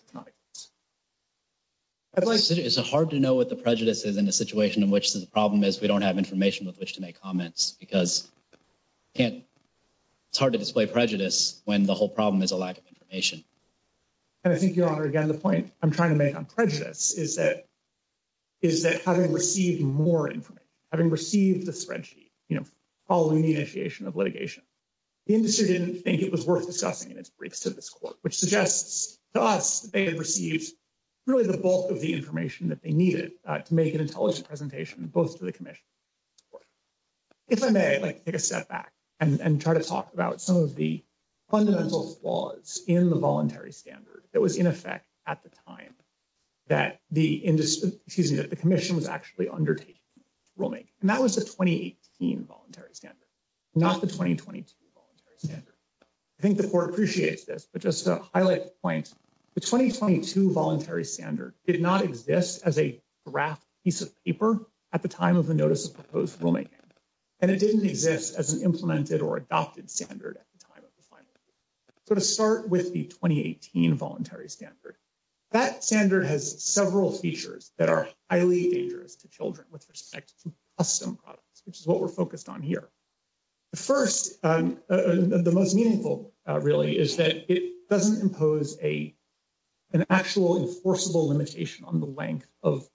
It's hard to know what the prejudice is in a situation in which the problem is we don't have information with which to make comments because it's hard to display prejudice when the whole problem is a lack of information. And I think, Your Honor, again, the point I'm trying to make on prejudice is that having received more information, having received the spreadsheet following the initiation of litigation, the industry didn't think it was worth discussing in its briefs to this court, which suggests to us that they had received really the bulk of the information that they needed to make an intelligent presentation, both to the commission and to the court. If I may, I'd like to take a step back and try to talk about some of the fundamental flaws in the voluntary standard that was in effect at the time that the commission was actually undertaking rulemaking. And that was the 2018 voluntary standard, not the 2022 voluntary standard. I think the court appreciates this, but just to highlight the point, the 2022 voluntary standard did not exist as a draft piece of paper at the time of the notice of proposed rulemaking. And it didn't exist as an implemented or adopted standard at the time of the final ruling. So to start with the 2018 voluntary standard, that standard has several features that are highly dangerous to children with respect to custom products, which is what we're focused on here. The first, the most meaningful, really, is that it doesn't impose an actual enforceable limitation on the length of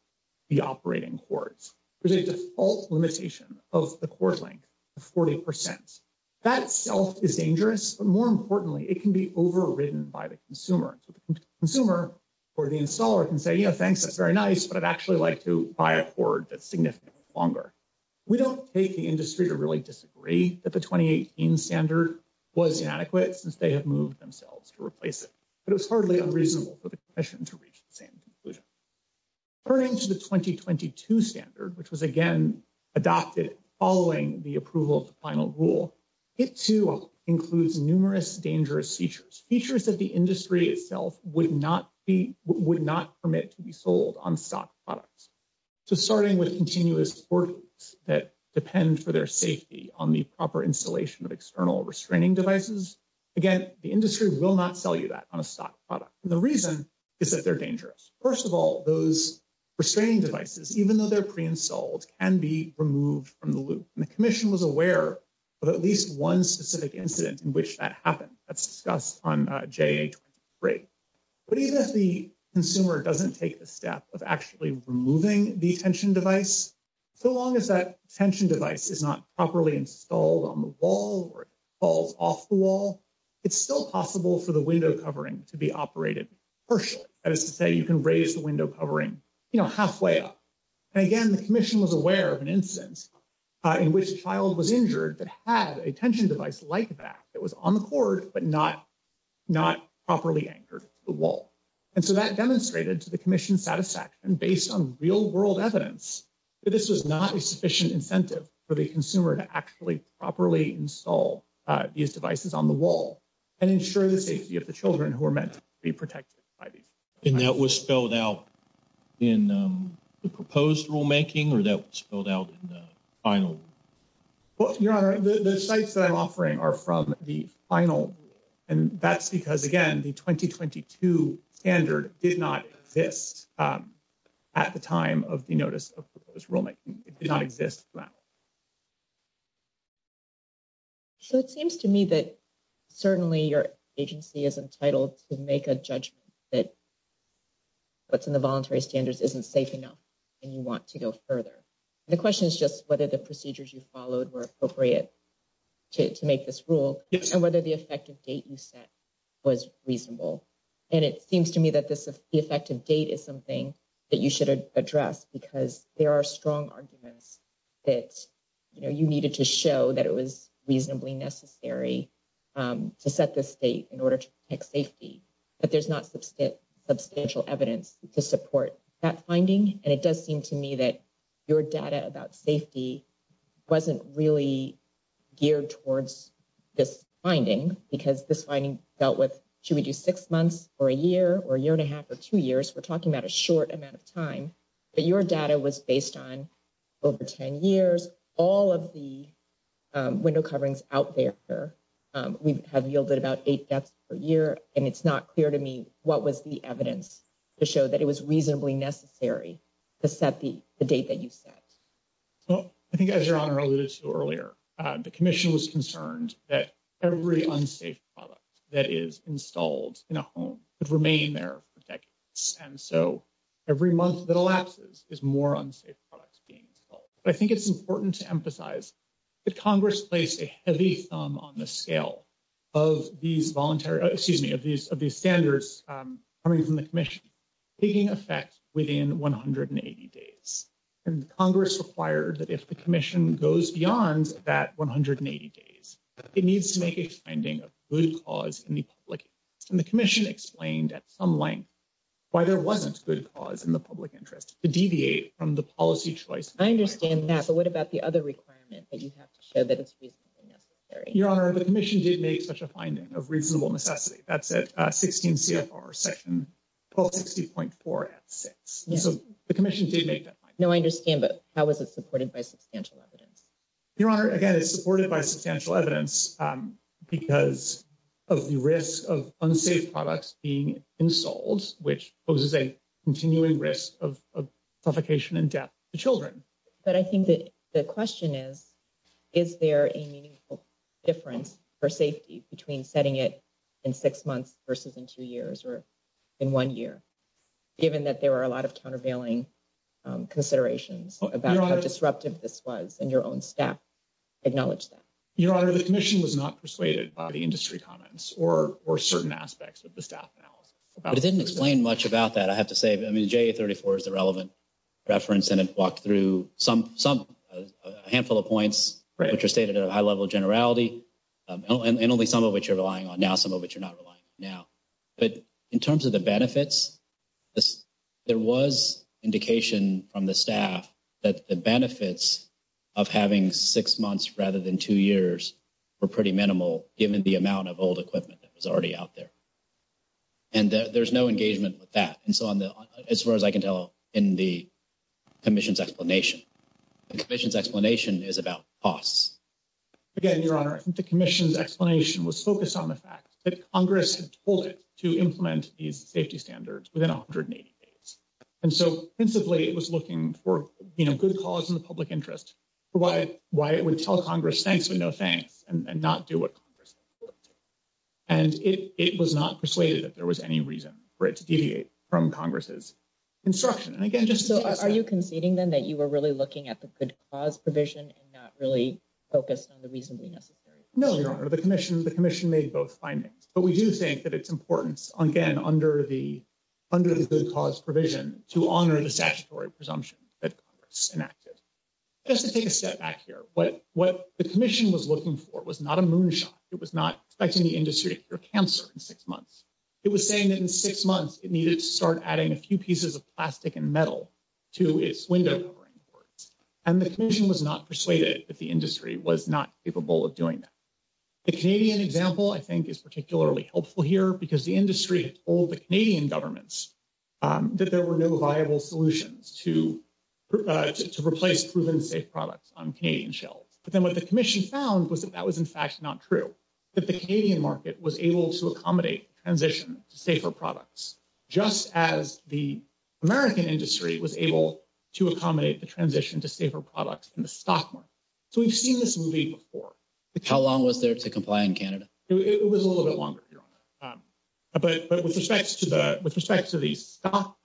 the operating courts. There's a default limitation of the court length of 40%. That itself is dangerous, but more importantly, it can be overridden by the consumer. So the consumer or the installer can say, you know, thanks, that's very nice, but I'd actually like to buy a court that's significantly longer. We don't take the industry to really disagree that the 2018 standard was inadequate since they have moved themselves to replace it, but it was hardly unreasonable for the commission to reach the same conclusion. Turning to the 2022 standard, which was again adopted following the approval of the final rule, it too includes numerous dangerous features, features that the industry itself would not permit to be sold on stock products. So starting with continuous courtrooms that depend for their safety on the proper installation of external restraining devices, again, the industry will not sell you that on a stock product. The reason is that they're dangerous. First of all, those restraining devices, even though they're pre-installed, can be removed from the loop. The commission was aware of at least one specific incident in which that happened. That's discussed on JA-23. But even if the consumer doesn't take the step of actually removing the tension device, so long as that tension device is not properly installed on the wall or falls off the wall, it's still possible for the window covering to be operated partially. That is to say, you can raise the window covering halfway up. And again, the commission was aware of an instance in which a child was injured that had a tension device like that that was on the cord, but not properly anchored to the wall. And so that demonstrated to the commission's satisfaction, based on real-world evidence, that this was not a sufficient incentive for the consumer to actually properly install these devices on the wall and ensure the safety of the children who are meant to be protected by these. And that was spelled out in the proposed rulemaking, or that was spelled out in the final? Well, Your Honor, the sites that I'm offering are from the final. And that's because, again, the 2022 standard did not exist at the time of the notice of proposed rulemaking. It did not exist then. So it seems to me that certainly your agency is entitled to make a judgment that what's in the voluntary standards isn't safe enough and you want to go further. The question is just whether the procedures you followed were appropriate to make this rule and whether the effective date you set was reasonable. And it seems to me that this effective date is something that you should address because there are strong arguments that you needed to show that it was reasonably necessary to set this date in order to protect safety. But there's not substantial evidence to support that finding. And it does seem to me that your data about safety wasn't really geared towards this finding because this finding dealt with, should we do six months or a year or a year and a half or two years? We're talking about a short amount of time, but your data was based on over 10 years. All of the window coverings out there, we have yielded about eight deaths per year. And it's not clear to me what was the evidence to show that it was reasonably necessary to set the date that you set. Well, I think as Your Honor alluded to earlier, the Commission was concerned that every unsafe product that is installed in a home would remain there for decades. And so every month that elapses is more unsafe products being installed. But I think it's important to emphasize that Congress placed a heavy thumb on the scale of these voluntary, excuse me, of these standards coming from the Commission taking effect within 180 days. And Congress required that if the Commission goes beyond that 180 days, it needs to make a finding of good cause in the public interest. But what about the other requirement that you have to show that it's reasonably necessary? Your Honor, the Commission did make such a finding of reasonable necessity. That's at 16 CFR section 1260.4 at 6. So the Commission did make that finding. No, I understand. But how was it supported by substantial evidence? Your Honor, again, it's supported by substantial evidence because of the risk of unsafe products being installed, which poses a continuing risk of suffocation and death to children. But I think that the question is, is there a meaningful difference for safety between setting it in six months versus in two years or in one year? Given that there are a lot of countervailing considerations about how disruptive this was and your own staff acknowledged that. Your Honor, the Commission was not persuaded by the industry comments or certain aspects of the staff analysis. But it didn't explain much about that, I have to say. I mean, JA-34 is the relevant reference. And it walked through a handful of points which are stated at a high level of generality, and only some of which you're relying on now, some of which you're not relying on now. But in terms of the benefits, there was indication from the staff that the benefits of having six months rather than two years were pretty minimal, given the amount of old equipment that was already out there. And there's no engagement with that, as far as I can tell, in the Commission's explanation. The Commission's explanation is about costs. Again, Your Honor, I think the Commission's explanation was focused on the fact that Congress had told it to implement these safety standards within 180 days. And so, principally, it was looking for good cause in the public interest, for why it would tell Congress, thanks but no thanks, and not do what Congress said it would do. And it was not persuaded that there was any reason for it to deviate from Congress's instruction. Are you conceding, then, that you were really looking at the good cause provision and not really focused on the reasonably necessary? No, Your Honor. The Commission made both findings. But we do think that it's important, again, under the good cause provision, to honor the statutory presumption that Congress enacted. Just to take a step back here, what the Commission was looking for was not a moonshot. It was not expecting the industry to cure cancer in six months. It was saying that in six months, it needed to start adding a few pieces of plastic and metal to its window covering boards. And the Commission was not persuaded that the industry was not capable of doing that. The Canadian example, I think, is particularly helpful here because the industry told the Canadian governments that there were no viable solutions to replace proven safe products on Canadian shelves. But then what the Commission found was that that was, in fact, not true. That the Canadian market was able to accommodate transition to safer products, just as the American industry was able to accommodate the transition to safer products in the stock market. So we've seen this movie before. How long was there to comply in Canada? It was a little bit longer, Your Honor. But with respect to the stock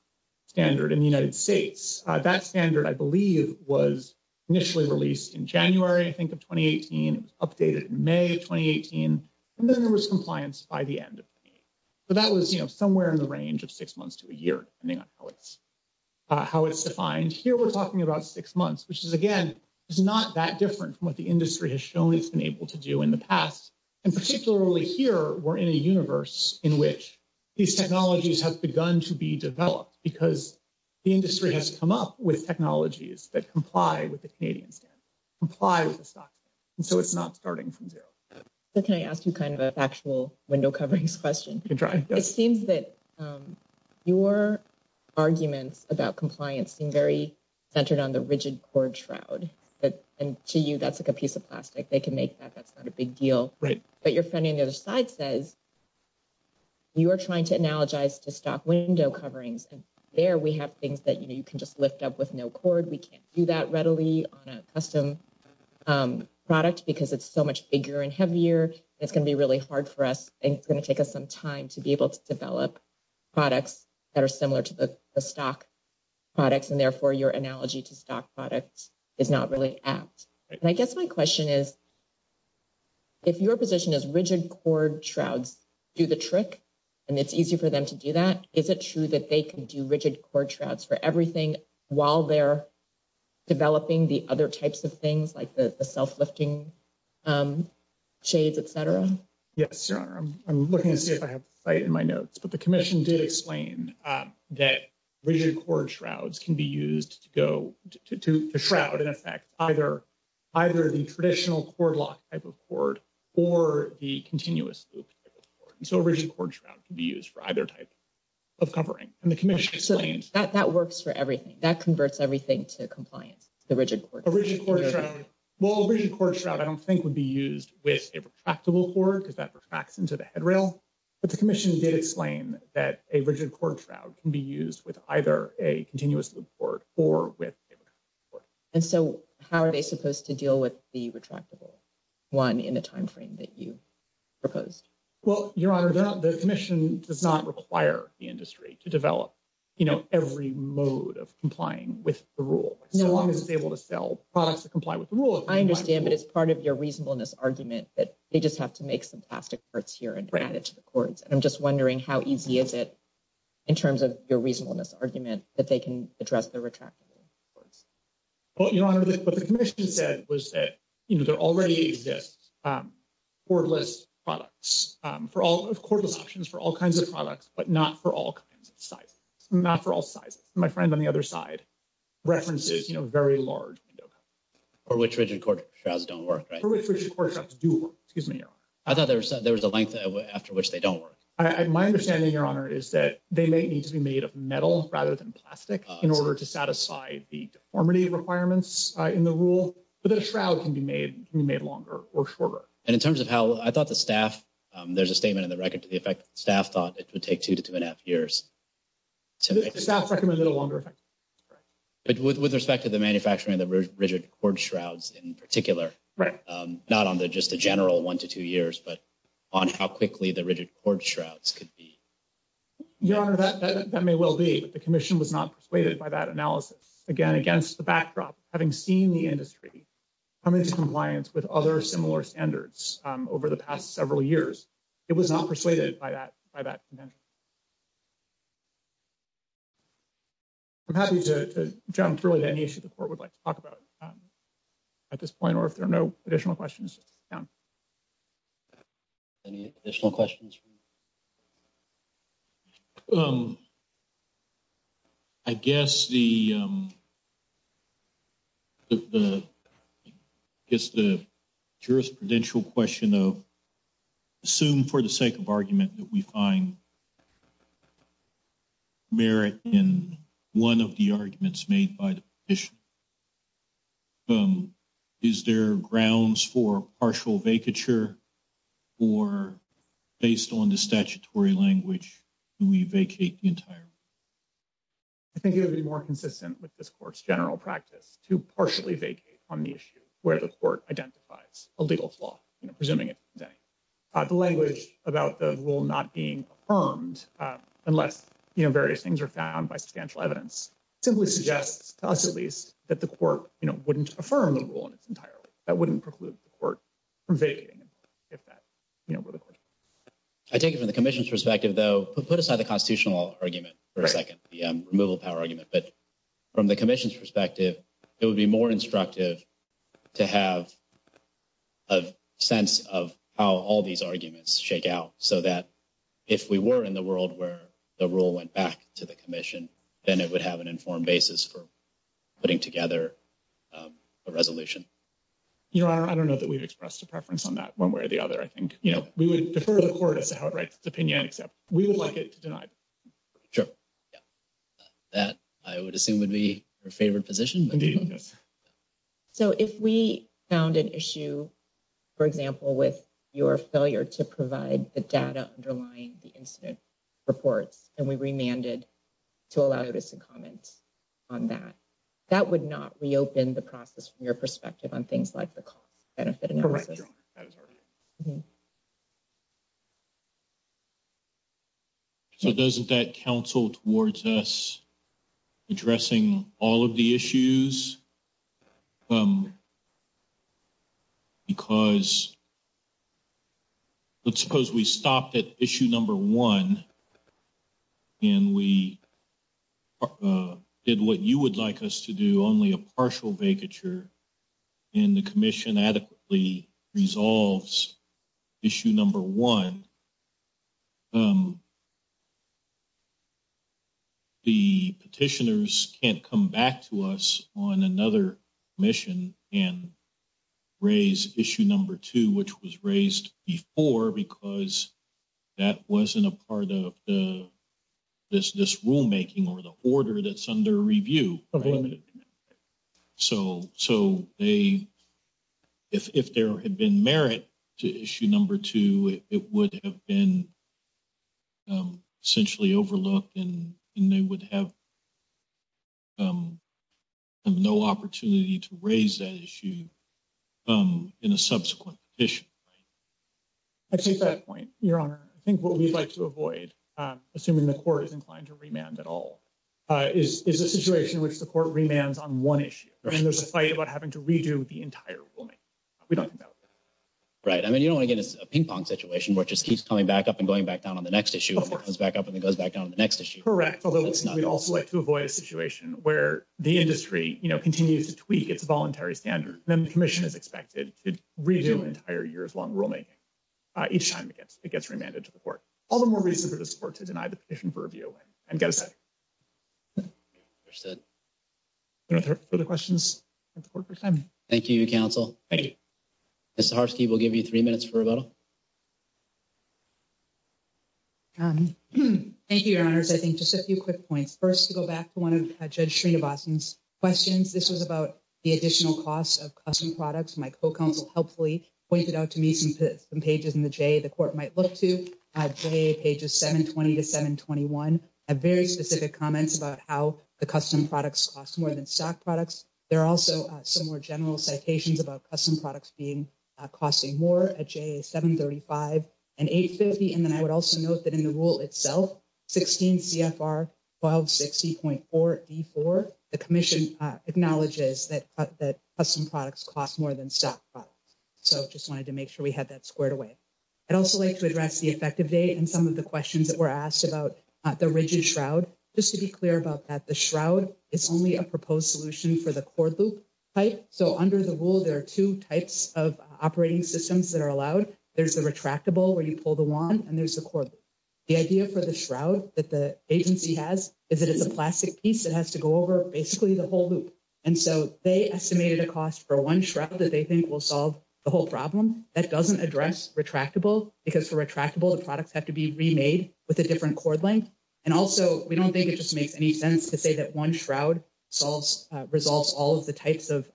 standard in the United States, that standard, I believe, was initially released in January, I think, of 2018. It was updated in May of 2018. And then there was compliance by the end of 2018. So that was, you know, somewhere in the range of six months to a year, depending on how it's defined. And here we're talking about six months, which is, again, is not that different from what the industry has shown it's been able to do in the past. And particularly here, we're in a universe in which these technologies have begun to be developed because the industry has come up with technologies that comply with the Canadian standard, comply with the stock standard. And so it's not starting from zero. Can I ask you kind of a factual window coverings question? You can try. It seems that your arguments about compliance seem very centered on the rigid cord shroud. And to you, that's like a piece of plastic. They can make that. That's not a big deal. Right. But your friend on the other side says you are trying to analogize to stock window coverings. And there we have things that, you know, you can just lift up with no cord. We can't do that readily on a custom product because it's so much bigger and heavier. It's going to be really hard for us. And it's going to take us some time to be able to develop products that are similar to the stock products. And therefore, your analogy to stock products is not really apt. And I guess my question is, if your position is rigid cord shrouds do the trick and it's easy for them to do that, is it true that they can do rigid cord shrouds for everything while they're developing the other types of things like the self-lifting shades? Yes, sir. I'm looking to see if I have fight in my notes, but the commission did explain that rigid cord shrouds can be used to go to the shroud. And in fact, either either the traditional cord lock type of cord or the continuous loop. So rigid cord shroud can be used for either type of covering and the commission. So that works for everything that converts everything to compliance. A rigid cord shroud I don't think would be used with a retractable cord because that retracts into the headrail. But the commission did explain that a rigid cord shroud can be used with either a continuous loop cord or with a retractable cord. And so how are they supposed to deal with the retractable one in the timeframe that you proposed? Well, your honor, the commission does not require the industry to develop, you know, every mode of complying with the rule. As long as it's able to sell products that comply with the rule. I understand, but it's part of your reasonableness argument that they just have to make some plastic parts here and add it to the cords. And I'm just wondering how easy is it in terms of your reasonableness argument that they can address the retractable cords? Well, your honor, what the commission said was that, you know, there already exists cordless products for all cordless options for all kinds of products, but not for all kinds of sizes. Not for all sizes. My friend on the other side references, you know, very large window covers. For which rigid cord shrouds don't work, right? For which rigid cord shrouds do work. Excuse me, your honor. I thought there was a length after which they don't work. My understanding, your honor, is that they may need to be made of metal rather than plastic in order to satisfy the deformity requirements in the rule. But the shroud can be made longer or shorter. And in terms of how I thought the staff, there's a statement in the record to the effect staff thought it would take two to two and a half years. The staff recommended a longer effect. But with respect to the manufacturing of the rigid cord shrouds in particular. Right. Not on the just a general one to two years, but on how quickly the rigid cord shrouds could be. Your honor, that may well be, but the commission was not persuaded by that analysis. Again, against the backdrop, having seen the industry. I'm into compliance with other similar standards over the past several years. It was not persuaded by that by that. I'm happy to jump through at any issue the court would like to talk about. At this point, or if there are no additional questions. Any additional questions. I guess the. The. It's the jurisprudential question of. Assume for the sake of argument that we find. Merit in one of the arguments made by the issue. Is there grounds for partial vacature? Or based on the statutory language, we vacate the entire. I think it would be more consistent with this course, general practice to partially vacate on the issue where the court identifies a legal flaw, presuming it. The language about the rule not being armed, unless various things are found by substantial evidence. I think from the commission's perspective, though, put aside the constitutional argument for a 2nd, the removal power argument, but. From the commission's perspective, it would be more instructive. To have a sense of how all these arguments shake out so that. If we were in the world where the rule went back to the commission. Then it would have an informed basis for putting together a resolution. You are, I don't know that we've expressed a preference on that 1 way or the other. I think, you know, we would defer the court as to how it writes the opinion except we would like it to deny. Sure. That I would assume would be your favorite position. So, if we found an issue. For example, with your failure to provide the data underlying the incident. Reports and we remanded to allow us to comment. On that, that would not reopen the process from your perspective on things like the cost benefit. So, doesn't that counsel towards us? Addressing all of the issues. Because. Let's suppose we stopped at issue number 1. And we did what you would like us to do only a partial vacature. In the commission adequately resolves. Issue number 1. The petitioners can't come back to us on another mission and. Raise issue number 2, which was raised before because. That wasn't a part of the rulemaking or the order that's under review. So, so they. If there had been merit to issue number 2, it would have been. Essentially overlooked and they would have. No opportunity to raise that issue. In a subsequent issue. I think that point, your honor, I think what we'd like to avoid assuming the court is inclined to remand at all. Is is a situation in which the court remands on 1 issue, and there's a fight about having to redo the entire. We don't know. Right. I mean, you don't want to get a ping pong situation, which just keeps coming back up and going back down on the next issue. It goes back up and it goes back down to the next issue. Correct. Although it's not. We'd also like to avoid a situation where the industry continues to tweak its voluntary standard. And then the commission is expected to redo entire years long rulemaking. Each time it gets, it gets remanded to the court all the more reason for the support to deny the petition for review and get a second. Understood further questions. Thank you counsel. Thank you. Mr. Harsky will give you 3 minutes for rebuttal. Thank you, your honors. I think just a few quick points. 1st, to go back to 1 of judge Sreenivasan's questions. This was about the additional costs of custom products. My co counsel helpfully pointed out to me some pages in the J. the court might look to pages 720 to 721 have very specific comments about how the custom products cost more than stock products. There are also some more general citations about custom products being costing more at 735 and 850. And then I would also note that in the rule itself, 16 CFR 1260.4 D4, the commission acknowledges that that custom products cost more than stock products. So, just wanted to make sure we had that squared away. I'd also like to address the effective date and some of the questions that were asked about the rigid shroud just to be clear about that. The shroud is only a proposed solution for the cord loop. So, under the rule, there are 2 types of operating systems that are allowed. There's the retractable where you pull the 1 and there's the core. The idea for the shroud that the agency has is that it's a plastic piece that has to go over basically the whole loop. And so they estimated a cost for 1 shroud that they think will solve the whole problem. That doesn't address retractable because for retractable, the products have to be remade with a different cord length. And also, we don't think it just makes any sense to say that 1 shroud solves, resolves all of the types of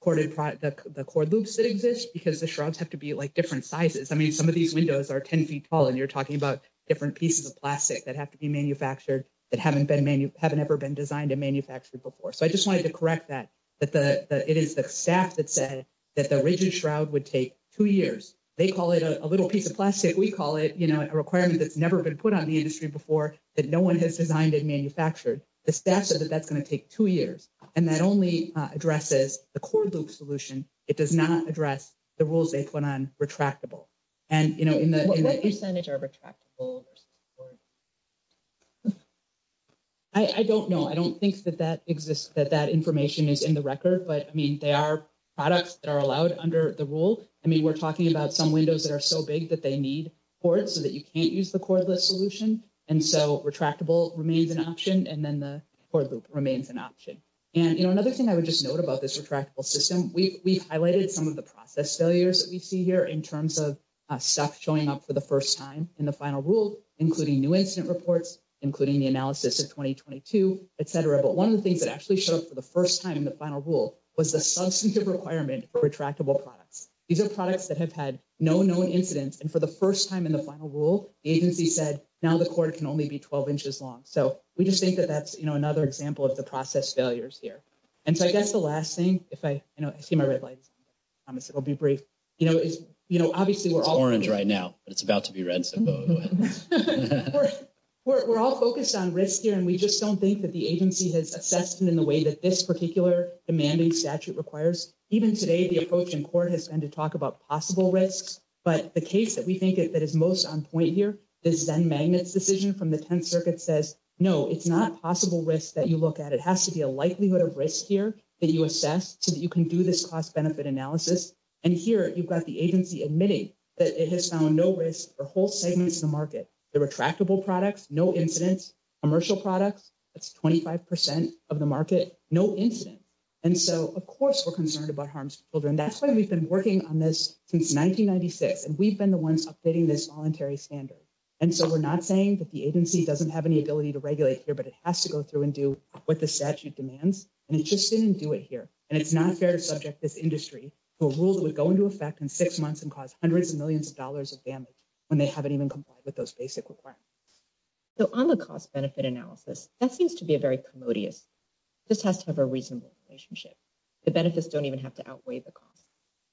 corded product, the cord loops that exist because the shrouds have to be like, different sizes. I mean, some of these windows are 10 feet tall and you're talking about different pieces of plastic that have to be manufactured that haven't been, haven't ever been designed and manufactured before. So I just wanted to correct that. It is the staff that said that the rigid shroud would take 2 years. They call it a little piece of plastic. We call it a requirement that's never been put on the industry before that no one has designed and manufactured. The staff said that that's going to take 2 years. And that only addresses the cord loop solution. It does not address the rules they put on retractable. What percentage are retractable versus cordless? I don't know. I don't think that that exists, that that information is in the record. But, I mean, they are products that are allowed under the rule. I mean, we're talking about some windows that are so big that they need cords so that you can't use the cordless solution. And so retractable remains an option. And then the cord loop remains an option. And another thing I would just note about this retractable system, we've highlighted some of the process failures that we see here in terms of stuff showing up for the 1st time in the final rule, including new incident reports, including the analysis of 2022, et cetera. But 1 of the things that actually showed up for the 1st time in the final rule was the substantive requirement for retractable products. These are products that have had no known incidents. And for the 1st time in the final rule, the agency said now the cord can only be 12 inches long. So we just think that that's, you know, another example of the process failures here. And so I guess the last thing, if I, you know, I see my red light, I promise it will be brief, you know, is, you know, obviously we're all orange right now, but it's about to be red. We're all focused on risk here, and we just don't think that the agency has assessed it in the way that this particular demanding statute requires. Even today, the approach in court has been to talk about possible risks, but the case that we think that is most on point here, the Zen Magnets decision from the 10th Circuit says, no, it's not possible risk that you look at. It has to be a likelihood of risk here that you assess so that you can do this cost benefit analysis. And here you've got the agency admitting that it has found no risk for whole segments of the market, the retractable products, no incidents, commercial products, that's 25% of the market, no incidents. And so, of course, we're concerned about harms to children. That's why we've been working on this since 1996. And we've been the ones updating this voluntary standard. And so we're not saying that the agency doesn't have any ability to regulate here, but it has to go through and do what the statute demands. And it just didn't do it here. And it's not fair to subject this industry to a rule that would go into effect in 6 months and cause hundreds of millions of dollars of damage when they haven't even complied with those basic requirements. So on the cost benefit analysis, that seems to be a very commodious. This has to have a reasonable relationship. The benefits don't even have to outweigh the cost.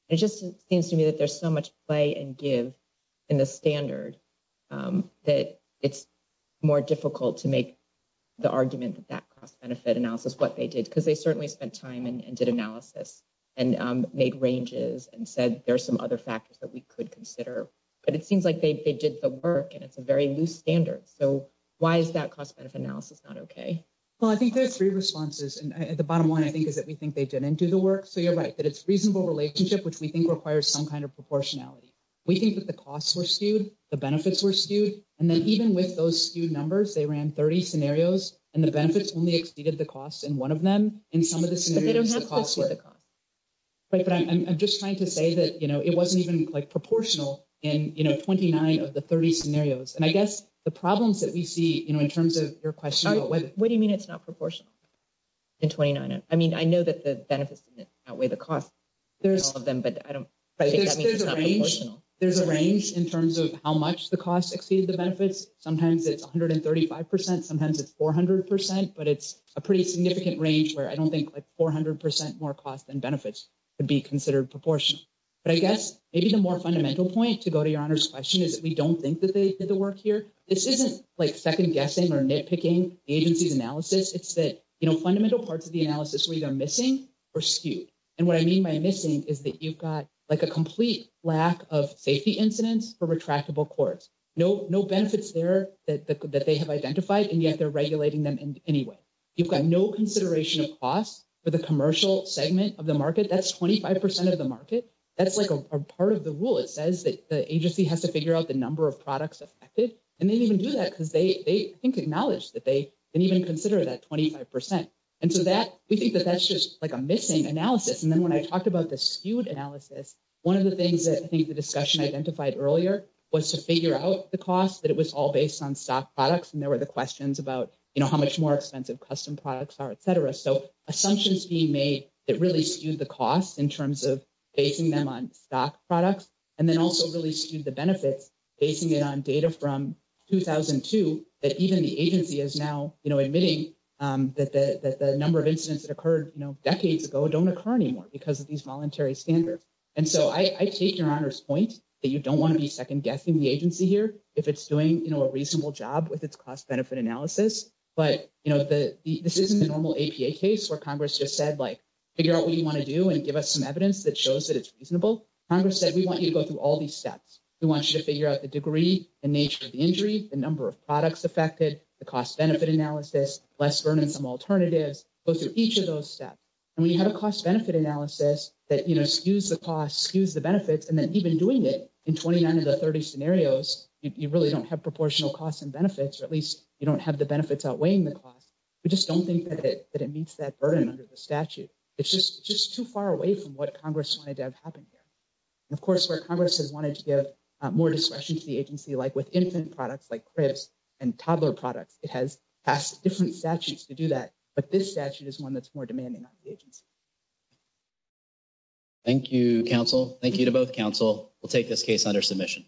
It just seems to me that there's so much play and give in the standard that it's more difficult to make the argument that that cost benefit analysis, what they did, because they certainly spent time and did analysis and made ranges and said there are some other factors that we could consider. But it seems like they did the work and it's a very loose standard. So why is that cost benefit analysis not okay? Well, I think there's 3 responses and the bottom line, I think, is that we think they didn't do the work. So you're right that it's reasonable relationship, which we think requires some kind of proportionality. We think that the costs were skewed, the benefits were skewed, and then even with those skewed numbers, they ran 30 scenarios and the benefits only exceeded the cost in 1 of them in some of the scenarios. But I'm just trying to say that it wasn't even proportional in 29 of the 30 scenarios. And I guess the problems that we see in terms of your question. What do you mean? It's not proportional? In 29, I mean, I know that the benefits outweigh the cost of them, but I don't think that means it's not proportional. There's a range in terms of how much the costs exceed the benefits. Sometimes it's 135%, sometimes it's 400%, but it's a pretty significant range where I don't think like 400% more cost than benefits would be considered proportional. But I guess maybe the more fundamental point to go to your Honor's question is that we don't think that they did the work here. This isn't like second guessing or nitpicking agencies analysis. It's that fundamental parts of the analysis were either missing or skewed. And what I mean by missing is that you've got like a complete lack of safety incidents for retractable courts. No benefits there that they have identified and yet they're regulating them anyway. You've got no consideration of costs for the commercial segment of the market. That's 25% of the market. That's like a part of the rule. It says that the agency has to figure out the number of products affected. And they didn't even do that because they acknowledge that they didn't even consider that 25%. And so that we think that that's just like a missing analysis. And then when I talked about the skewed analysis, one of the things that I think the discussion identified earlier was to figure out the cost that it was all based on stock products. And there were the questions about how much more expensive custom products are, etc. So assumptions being made that really skewed the cost in terms of basing them on stock products. And then also really skewed the benefits, basing it on data from 2002, that even the agency is now admitting that the number of incidents that occurred decades ago don't occur anymore because of these voluntary standards. And so I take your Honor's point that you don't want to be second guessing the agency here. If it's doing a reasonable job with its cost benefit analysis. But this isn't a normal APA case where Congress just said, figure out what you want to do and give us some evidence that shows that it's reasonable. Congress said, we want you to go through all these steps. We want you to figure out the degree and nature of the injury, the number of products affected, the cost benefit analysis, less burden, some alternatives, go through each of those steps. And when you have a cost benefit analysis that skews the cost, skews the benefits, and then even doing it in 29 of the 30 scenarios, you really don't have proportional costs and benefits, or at least you don't have the benefits outweighing the cost. We just don't think that it meets that burden under the statute. It's just too far away from what Congress wanted to have happen here. Of course, where Congress has wanted to give more discretion to the agency, like, with infant products, like cribs and toddler products, it has passed different statutes to do that. But this statute is one that's more demanding on the agency. Thank you counsel. Thank you to both counsel. We'll take this case under submission.